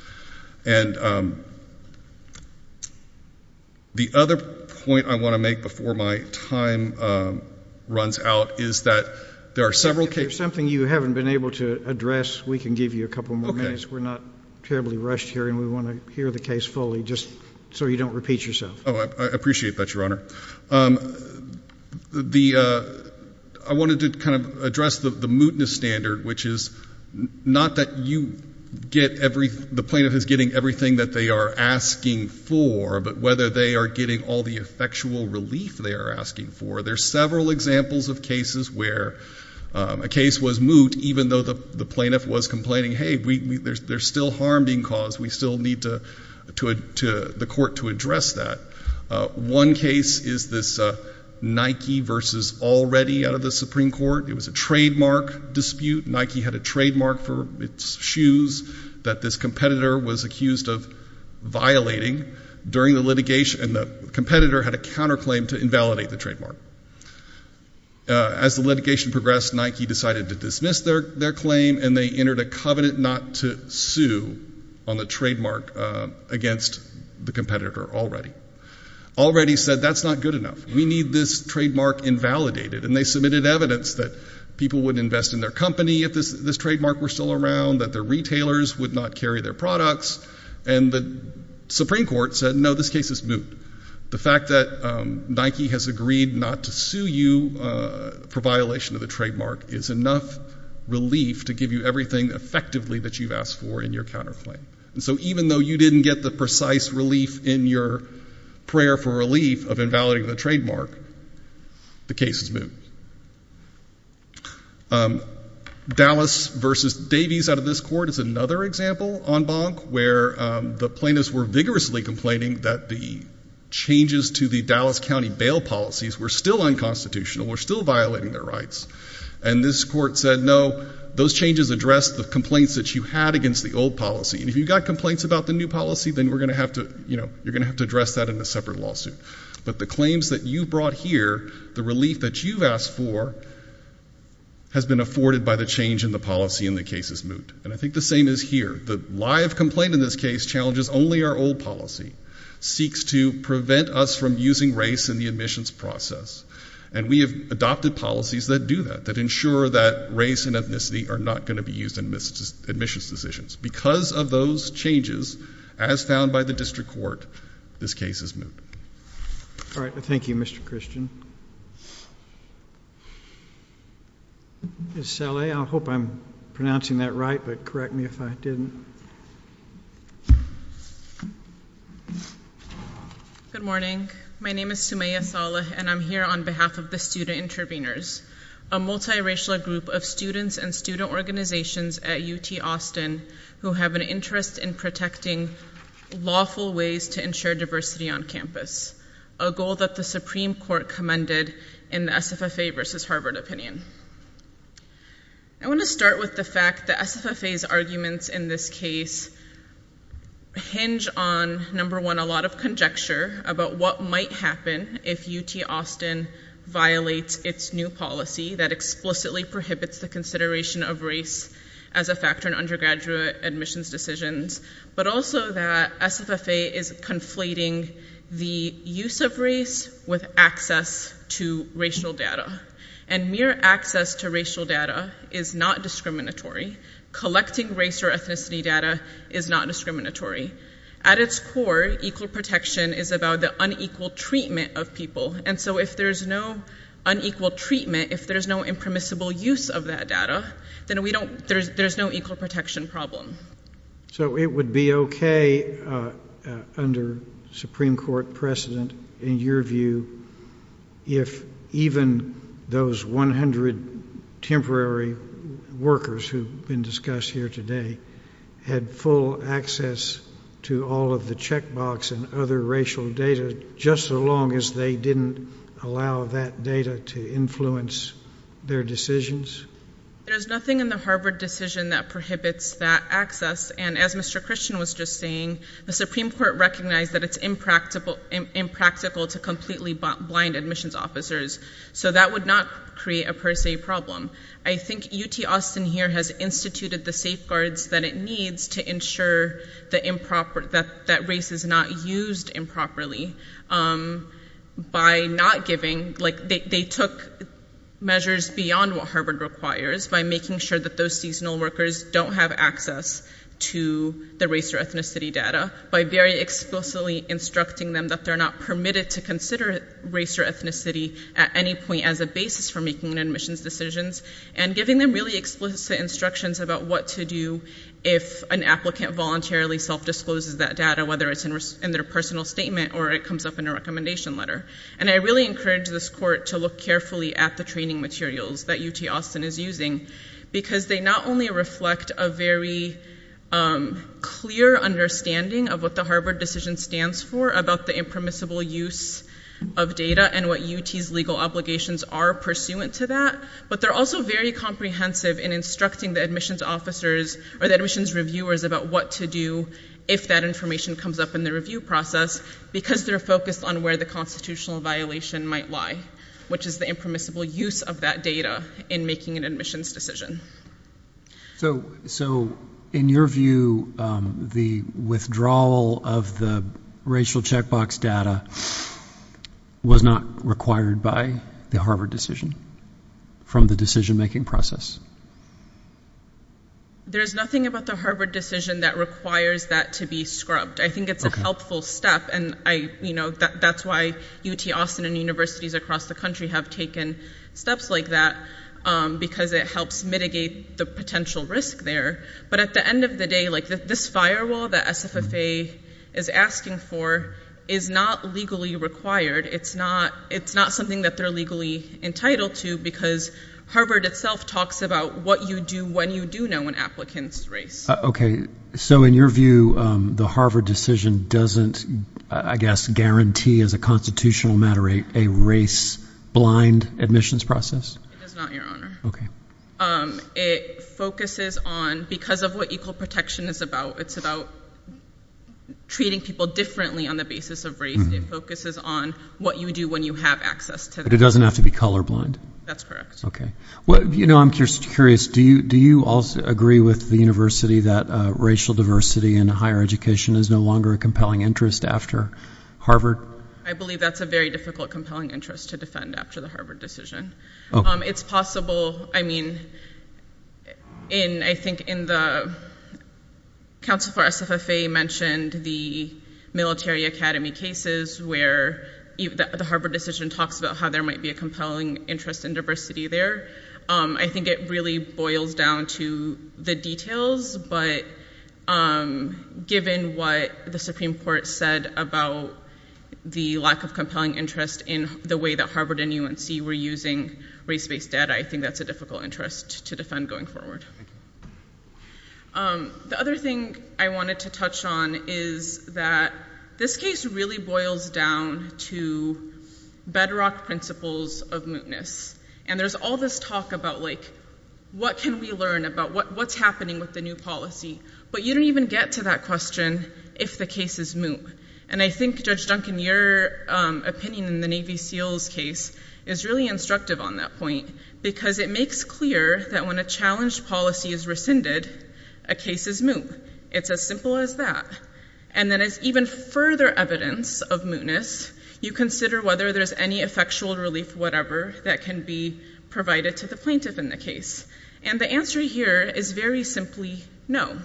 And the other point I want to make before my time runs out is that there are several cases... If there's something you haven't been able to address, we can give you a couple more minutes. Okay. We're not terribly rushed here, and we want to hear the case fully, just so you don't repeat yourself. Oh, I appreciate that, Your Honor. I wanted to kind of address the mootness standard, which is not that the plaintiff is getting everything that they are asking for, but whether they are getting all the effectual relief they are asking for. There are several examples of cases where a case was moot, even though the plaintiff was complaining, hey, there's still harm being caused. We still need the court to address that. One case is this Nike versus Already out of the Supreme Court. It was a trademark dispute. Nike had a trademark for its shoes that this competitor was accused of violating during the litigation, and the competitor had a counterclaim to invalidate the trademark. As the litigation progressed, Nike decided to dismiss their claim, and they entered a covenant not to sue on the trademark against the competitor Already. Already said, that's not good enough. We need this trademark invalidated. And they submitted evidence that people would invest in their company if this trademark were still around, that their retailers would not carry their products, and the Supreme Court said, no, this case is moot. The fact that Nike has agreed not to sue you for violation of the trademark is enough relief to give you everything effectively that you've asked for in your counterclaim. And so even though you didn't get the precise relief in your prayer for relief of invalidating the trademark, the case is moot. Dallas versus Davies out of this court is another example en banc where the plaintiffs were vigorously complaining that the changes to the Dallas County bail policies were still unconstitutional, were still violating their rights. And this court said, no, those changes address the complaints that you had against the old policy, and if you've got complaints about the new policy, then we're going to have to, you know, you're going to have to address that in a separate lawsuit. But the claims that you brought here, the relief that you've asked for, has been afforded by the change in the policy, and the case is moot. And I think the same is here. The live complaint in this case challenges only our old policy, seeks to prevent us from using race in the admissions process, and we have adopted policies that do that, that ensure that race and ethnicity are not going to be used in admissions decisions. Because of those changes, as found by the district court, this case is moot. All right. Thank you, Mr. Christian. Ms. Saleh, I hope I'm pronouncing that right, but correct me if I didn't. Good morning. My name is Sumaya Saleh, and I'm here on behalf of the student interveners, a multiracial group of students and student organizations at UT Austin who have an interest in protecting lawful ways to ensure diversity on campus, a goal that the Supreme Court commended in the SFFA versus Harvard opinion. I want to start with the fact that SFFA's arguments in this case hinge on, number one, a lot of conjecture about what might happen if UT Austin violates its new policy that explicitly prohibits the consideration of race as a factor in undergraduate admissions decisions, but also that SFFA is conflating the use of race with access to racial data. And mere access to racial data is not discriminatory. Collecting race or ethnicity data is not discriminatory. At its core, equal protection is about the unequal treatment of people. And so if there's no unequal treatment, if there's no impermissible use of that data, then there's no equal protection problem. So it would be okay under Supreme Court precedent, in your view, if even those 100 temporary workers who've been discussed here today had full access to all of the checkbox and other racial data just so long as they didn't allow that data to influence their decisions? There's nothing in the Harvard decision that prohibits that access. And as Mr. Christian was just saying, the Supreme Court recognized that it's impractical to completely blind admissions officers, so that would not create a per se problem. I think UT Austin here has instituted the safeguards that it needs to ensure that race is not used improperly by not giving. They took measures beyond what Harvard requires by making sure that those seasonal workers don't have access to the race or ethnicity data, by very explicitly instructing them that they're not permitted to consider race or ethnicity at any point as a basis for making admissions decisions, and giving them really explicit instructions about what to do if an applicant voluntarily self-discloses that data, whether it's in their personal statement or it comes up in a recommendation letter. And I really encourage this court to look carefully at the training materials that UT Austin is using, because they not only reflect a very clear understanding of what the Harvard decision stands for about the impermissible use of data and what UT's legal obligations are pursuant to that, but they're also very comprehensive in instructing the admissions officers or the admissions reviewers about what to do if that information comes up in the review process, because they're focused on where the constitutional violation might lie, which is the impermissible use of that data in making an admissions decision. So in your view, the withdrawal of the racial checkbox data was not required by the Harvard decision from the decision-making process? There is nothing about the Harvard decision that requires that to be scrubbed. I think it's a helpful step, and that's why UT Austin and universities across the country have taken steps like that, because it helps mitigate the potential risk there. But at the end of the day, this firewall that SFFA is asking for is not legally required. It's not something that they're legally entitled to, because Harvard itself talks about what you do when you do know an applicant's race. Okay. So in your view, the Harvard decision doesn't, I guess, guarantee as a constitutional matter a race-blind admissions process? It does not, Your Honor. Okay. It focuses on, because of what equal protection is about, it's about treating people differently on the basis of race. It focuses on what you do when you have access to that. But it doesn't have to be colorblind? That's correct. Okay. You know, I'm just curious. Do you all agree with the university that racial diversity in higher education is no longer a compelling interest after Harvard? I believe that's a very difficult, compelling interest to defend after the Harvard decision. It's possible. I mean, I think in the council for SFFA mentioned the military academy cases where the Harvard decision talks about how there might be a compelling interest in diversity there. I think it really boils down to the details, but given what the Supreme Court said about the lack of compelling interest in the way that Harvard and UNC were using race-based data, I think that's a difficult interest to defend going forward. The other thing I wanted to touch on is that this case really boils down to bedrock principles of mootness. And there's all this talk about, like, what can we learn about what's happening with the new policy? But you don't even get to that question if the case is moot. And I think, Judge Duncan, your opinion in the Navy SEALs case is really instructive on that point because it makes clear that when a challenged policy is rescinded, a case is moot. It's as simple as that. And then as even further evidence of mootness, you consider whether there's any effectual relief whatever that can be provided to the plaintiff in the case. And the answer here is very simply no.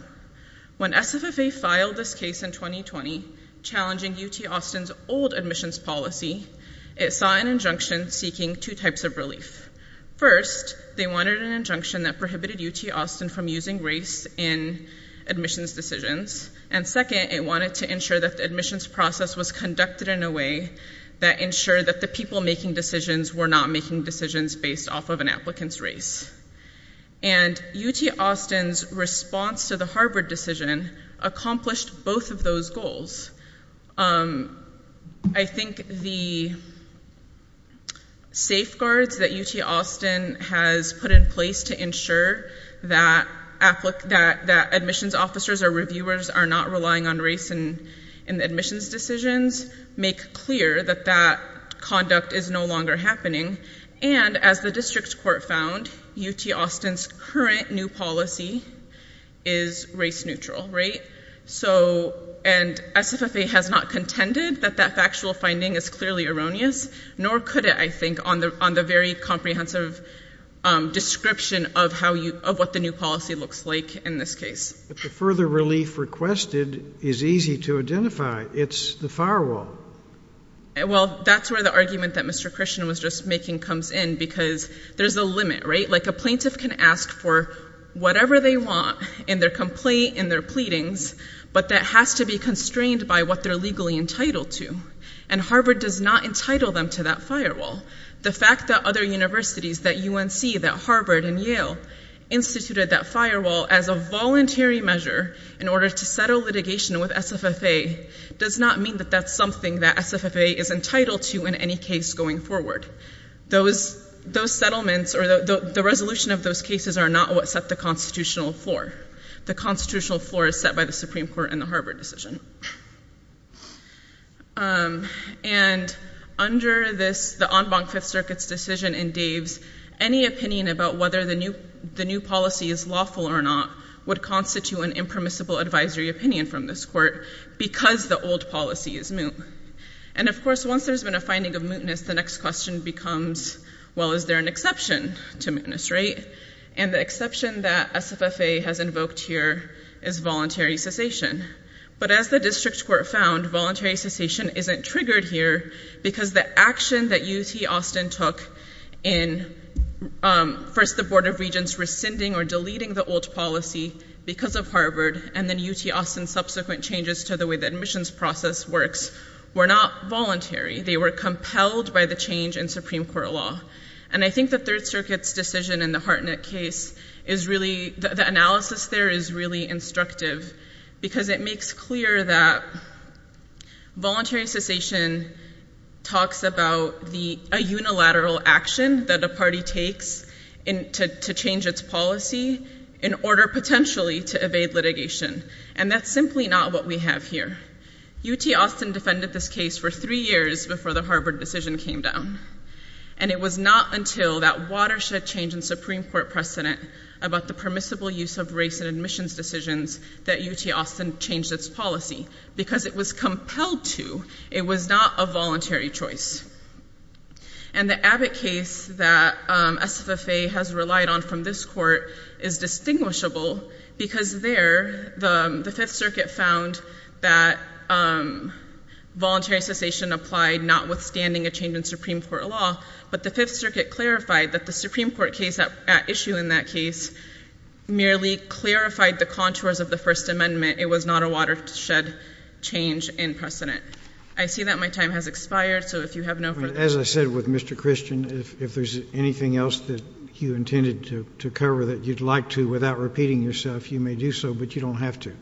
When SFFA filed this case in 2020 challenging UT Austin's old admissions policy, it saw an injunction seeking two types of relief. First, they wanted an injunction that prohibited UT Austin from using race in admissions decisions. And second, it wanted to ensure that the admissions process was conducted in a way that ensured that the people making decisions were not making decisions based off of an applicant's race. And UT Austin's response to the Harvard decision accomplished both of those goals. I think the safeguards that UT Austin has put in place to ensure that admissions officers or reviewers are not relying on race in admissions decisions make clear that that conduct is no longer happening. And as the district court found, UT Austin's current new policy is race neutral, right? And SFFA has not contended that that factual finding is clearly erroneous, nor could it, I think, on the very comprehensive description of what the new policy looks like in this case. But the further relief requested is easy to identify. It's the firewall. Well, that's where the argument that Mr. Christian was just making comes in because there's a limit, right? Like a plaintiff can ask for whatever they want in their complaint, in their pleadings, but that has to be constrained by what they're legally entitled to. And Harvard does not entitle them to that firewall. The fact that other universities, that UNC, that Harvard and Yale, instituted that firewall as a voluntary measure in order to settle litigation with SFFA does not mean that that's something that SFFA is entitled to in any case going forward. Those settlements or the resolution of those cases are not what set the constitutional floor. The constitutional floor is set by the Supreme Court in the Harvard decision. And under the en banc Fifth Circuit's decision in Dave's, any opinion about whether the new policy is lawful or not would constitute an impermissible advisory opinion from this court because the old policy is moot. And of course, once there's been a finding of mootness, the next question becomes, well, is there an exception to mootness, right? And the exception that SFFA has invoked here is voluntary cessation. But as the district court found, voluntary cessation isn't triggered here because the action that UT Austin took in first the Board of Regents rescinding or deleting the old policy because of Harvard and then UT Austin's subsequent changes to the way the admissions process works were not voluntary. They were compelled by the change in Supreme Court law. And I think the Third Circuit's decision in the Hartnett case is really, the analysis there is really instructive because it makes clear that voluntary cessation talks about a unilateral action that a party takes to change its policy in order potentially to evade litigation. And that's simply not what we have here. UT Austin defended this case for three years before the Harvard decision came down. And it was not until that watershed change in Supreme Court precedent about the permissible use of race in admissions decisions that UT Austin changed its policy because it was compelled to. It was not a voluntary choice. And the Abbott case that SFFA has relied on from this court is distinguishable because there the Fifth Circuit found that voluntary cessation applied notwithstanding a change in Supreme Court law. But the Fifth Circuit clarified that the Supreme Court case at issue in that case merely clarified the contours of the First Amendment. It was not a watershed change in precedent. I see that my time has expired, so if you have no further questions. As I said with Mr. Christian, if there's anything else that you intended to cover that you'd like to without repeating yourself, you may do so, but you don't have to.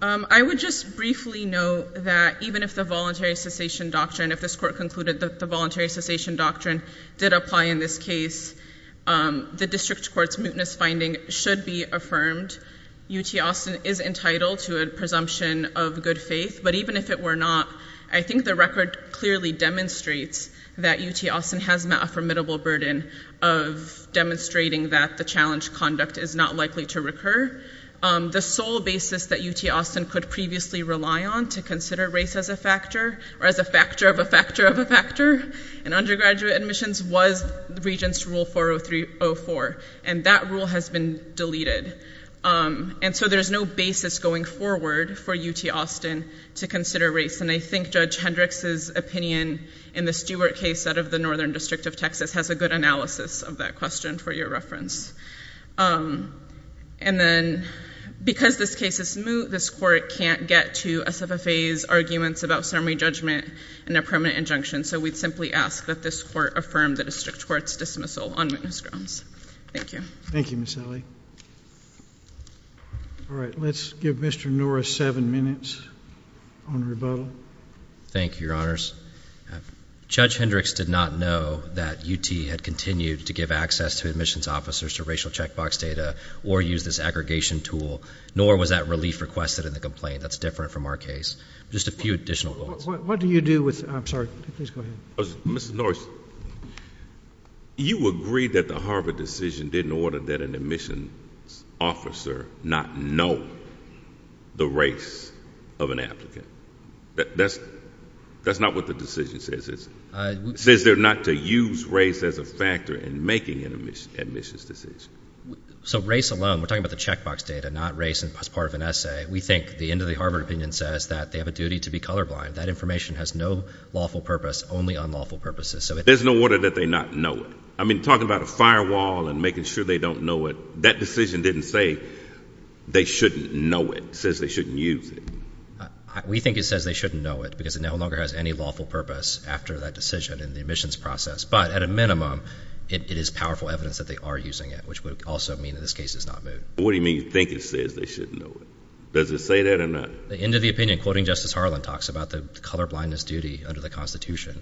I would just briefly note that even if the voluntary cessation doctrine, if this court concluded that the voluntary cessation doctrine did apply in this case, the district court's mootness finding should be affirmed. UT Austin is entitled to a presumption of good faith. But even if it were not, I think the record clearly demonstrates that UT Austin has met a formidable burden of demonstrating that the challenge conduct is not likely to recur. The sole basis that UT Austin could previously rely on to consider race as a factor, or as a factor of a factor of a factor in undergraduate admissions, was Regents Rule 403-04. And that rule has been deleted. And so there's no basis going forward for UT Austin to consider race. And I think Judge Hendricks' opinion in the Stewart case out of the northern district of Texas has a good analysis of that question for your reference. And then because this case is moot, this court can't get to SFFA's arguments about summary judgment and a permanent injunction, so we'd simply ask that this court affirm the district court's dismissal on witness grounds. Thank you. Thank you, Ms. Alley. All right, let's give Mr. Norris seven minutes on rebuttal. Thank you, Your Honors. Judge Hendricks did not know that UT had continued to give access to admissions officers to racial checkbox data or use this aggregation tool, nor was that relief requested in the complaint. That's different from our case. Just a few additional thoughts. What do you do with, I'm sorry, please go ahead. Ms. Norris, you agreed that the Harvard decision didn't order that an admissions officer not know the race of an applicant. That's not what the decision says, is it? It says not to use race as a factor in making an admissions decision. So race alone, we're talking about the checkbox data, not race as part of an essay. We think the end of the Harvard opinion says that they have a duty to be colorblind. That information has no lawful purpose, only unlawful purposes. There's no order that they not know it. I mean, talking about a firewall and making sure they don't know it, that decision didn't say they shouldn't know it. It says they shouldn't use it. We think it says they shouldn't know it because it no longer has any lawful purpose after that decision in the admissions process. But at a minimum, it is powerful evidence that they are using it, which would also mean that this case is not moved. What do you mean you think it says they shouldn't know it? Does it say that or not? The end of the opinion, quoting Justice Harlan, talks about the colorblindness duty under the Constitution.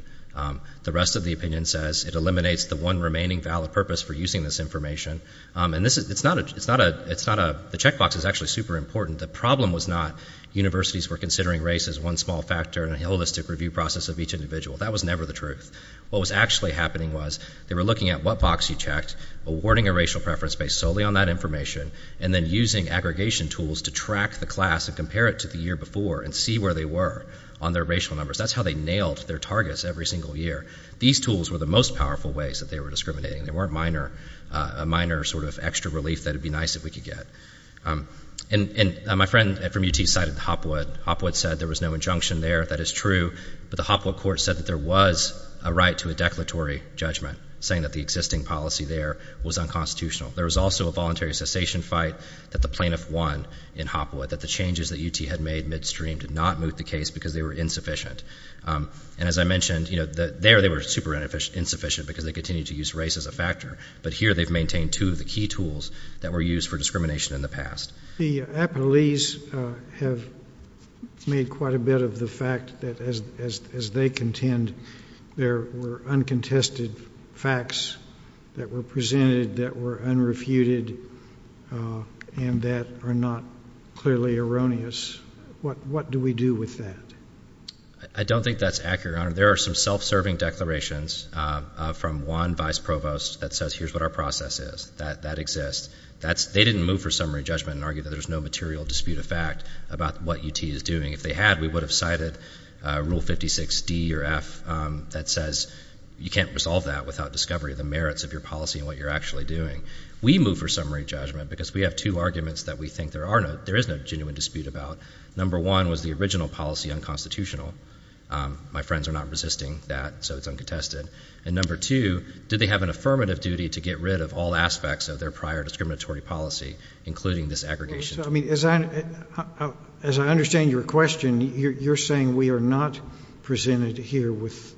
The rest of the opinion says it eliminates the one remaining valid purpose for using this information. And the checkbox is actually super important. The problem was not universities were considering race as one small factor in a holistic review process of each individual. That was never the truth. What was actually happening was they were looking at what box you checked, awarding a racial preference based solely on that information, and then using aggregation tools to track the class and compare it to the year before and see where they were on their racial numbers. That's how they nailed their targets every single year. These tools were the most powerful ways that they were discriminating. They weren't a minor sort of extra relief that it would be nice if we could get. And my friend from UT cited Hopwood. Hopwood said there was no injunction there. That is true. But the Hopwood court said that there was a right to a declaratory judgment, saying that the existing policy there was unconstitutional. There was also a voluntary cessation fight that the plaintiff won in Hopwood, that the changes that UT had made midstream did not move the case because they were insufficient. And as I mentioned, there they were super insufficient because they continued to use race as a factor. But here they've maintained two of the key tools that were used for discrimination in the past. The appellees have made quite a bit of the fact that, as they contend, there were uncontested facts that were presented that were unrefuted and that are not clearly erroneous. What do we do with that? I don't think that's accurate, Your Honor. There are some self-serving declarations from one vice provost that says here's what our process is. That exists. They didn't move for summary judgment and argue that there's no material dispute of fact about what UT is doing. If they had, we would have cited Rule 56D or F that says you can't resolve that without discovery of the merits of your policy and what you're actually doing. We move for summary judgment because we have two arguments that we think there is no genuine dispute about. Number one was the original policy unconstitutional. My friends are not resisting that, so it's uncontested. And number two, did they have an affirmative duty to get rid of all aspects of their prior discriminatory policy, including this aggregation? So, I mean, as I understand your question, you're saying we are not presented here with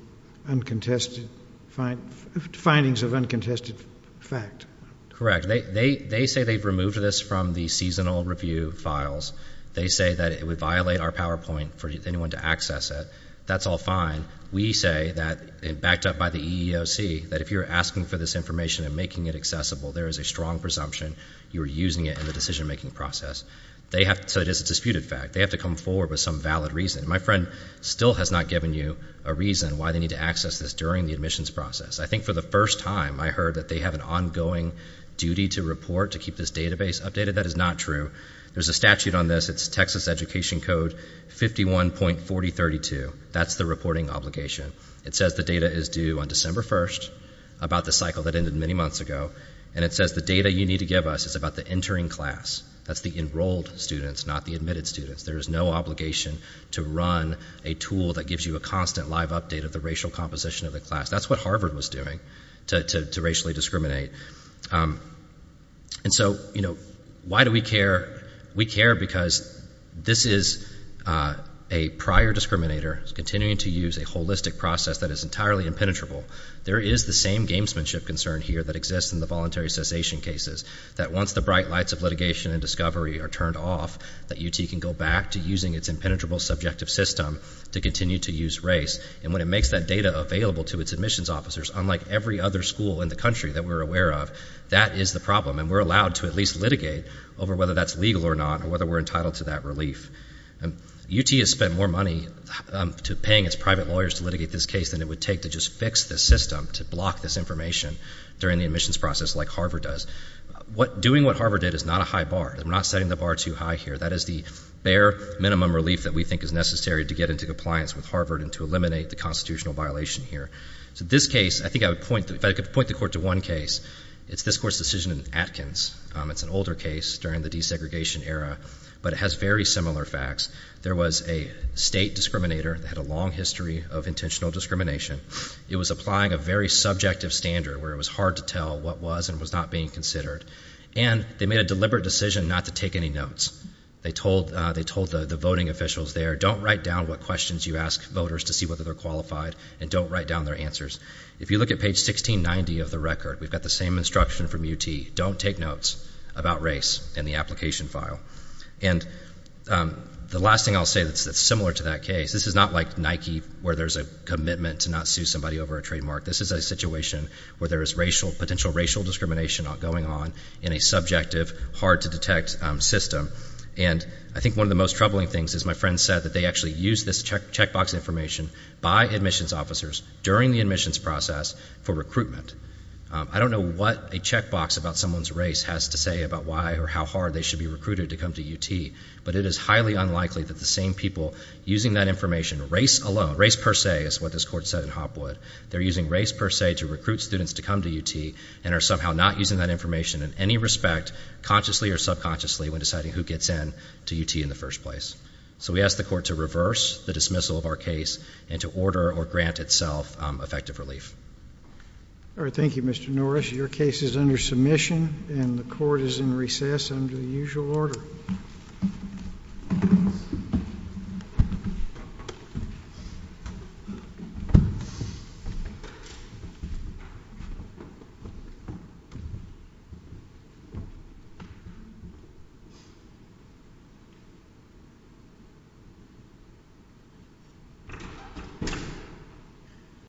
uncontested findings of uncontested fact. Correct. They say they've removed this from the seasonal review files. They say that it would violate our PowerPoint for anyone to access it. That's all fine. We say that, backed up by the EEOC, that if you're asking for this information and making it accessible, there is a strong presumption you're using it in the decision-making process. So it is a disputed fact. They have to come forward with some valid reason. My friend still has not given you a reason why they need to access this during the admissions process. I think for the first time I heard that they have an ongoing duty to report, to keep this database updated. That is not true. There's a statute on this. It's Texas Education Code 51.4032. That's the reporting obligation. It says the data is due on December 1st, about the cycle that ended many months ago, and it says the data you need to give us is about the entering class. That's the enrolled students, not the admitted students. There is no obligation to run a tool that gives you a constant live update of the racial composition of the class. That's what Harvard was doing to racially discriminate. And so, you know, why do we care? We care because this is a prior discriminator continuing to use a holistic process that is entirely impenetrable. There is the same gamesmanship concern here that exists in the voluntary cessation cases, that once the bright lights of litigation and discovery are turned off, that UT can go back to using its impenetrable subjective system to continue to use race. And when it makes that data available to its admissions officers, unlike every other school in the country that we're aware of, that is the problem. And we're allowed to at least litigate over whether that's legal or not or whether we're entitled to that relief. UT has spent more money to paying its private lawyers to litigate this case than it would take to just fix this system, to block this information during the admissions process like Harvard does. Doing what Harvard did is not a high bar. We're not setting the bar too high here. That is the bare minimum relief that we think is necessary to get into compliance with Harvard and to eliminate the constitutional violation here. So this case, I think I would point, if I could point the court to one case, it's this court's decision in Atkins. It's an older case during the desegregation era, but it has very similar facts. There was a state discriminator that had a long history of intentional discrimination. It was applying a very subjective standard where it was hard to tell what was and was not being considered. And they made a deliberate decision not to take any notes. They told the voting officials there, don't write down what questions you ask voters to see whether they're qualified and don't write down their answers. If you look at page 1690 of the record, we've got the same instruction from UT. Don't take notes about race in the application file. And the last thing I'll say that's similar to that case, this is not like Nike where there's a commitment to not sue somebody over a trademark. This is a situation where there is potential racial discrimination going on in a subjective, hard-to-detect system. And I think one of the most troubling things is my friend said that they actually used this checkbox information by admissions officers during the admissions process for recruitment. I don't know what a checkbox about someone's race has to say about why or how hard they should be recruited to come to UT, but it is highly unlikely that the same people using that information, race alone, race per se is what this court said in Hopwood. They're using race per se to recruit students to come to UT and are somehow not using that information in any respect, consciously or subconsciously, when deciding who gets in to UT in the first place. So we ask the court to reverse the dismissal of our case and to order or grant itself effective relief. All right, thank you, Mr. Norris. Your case is under submission and the court is in recess under the usual order. Thank you.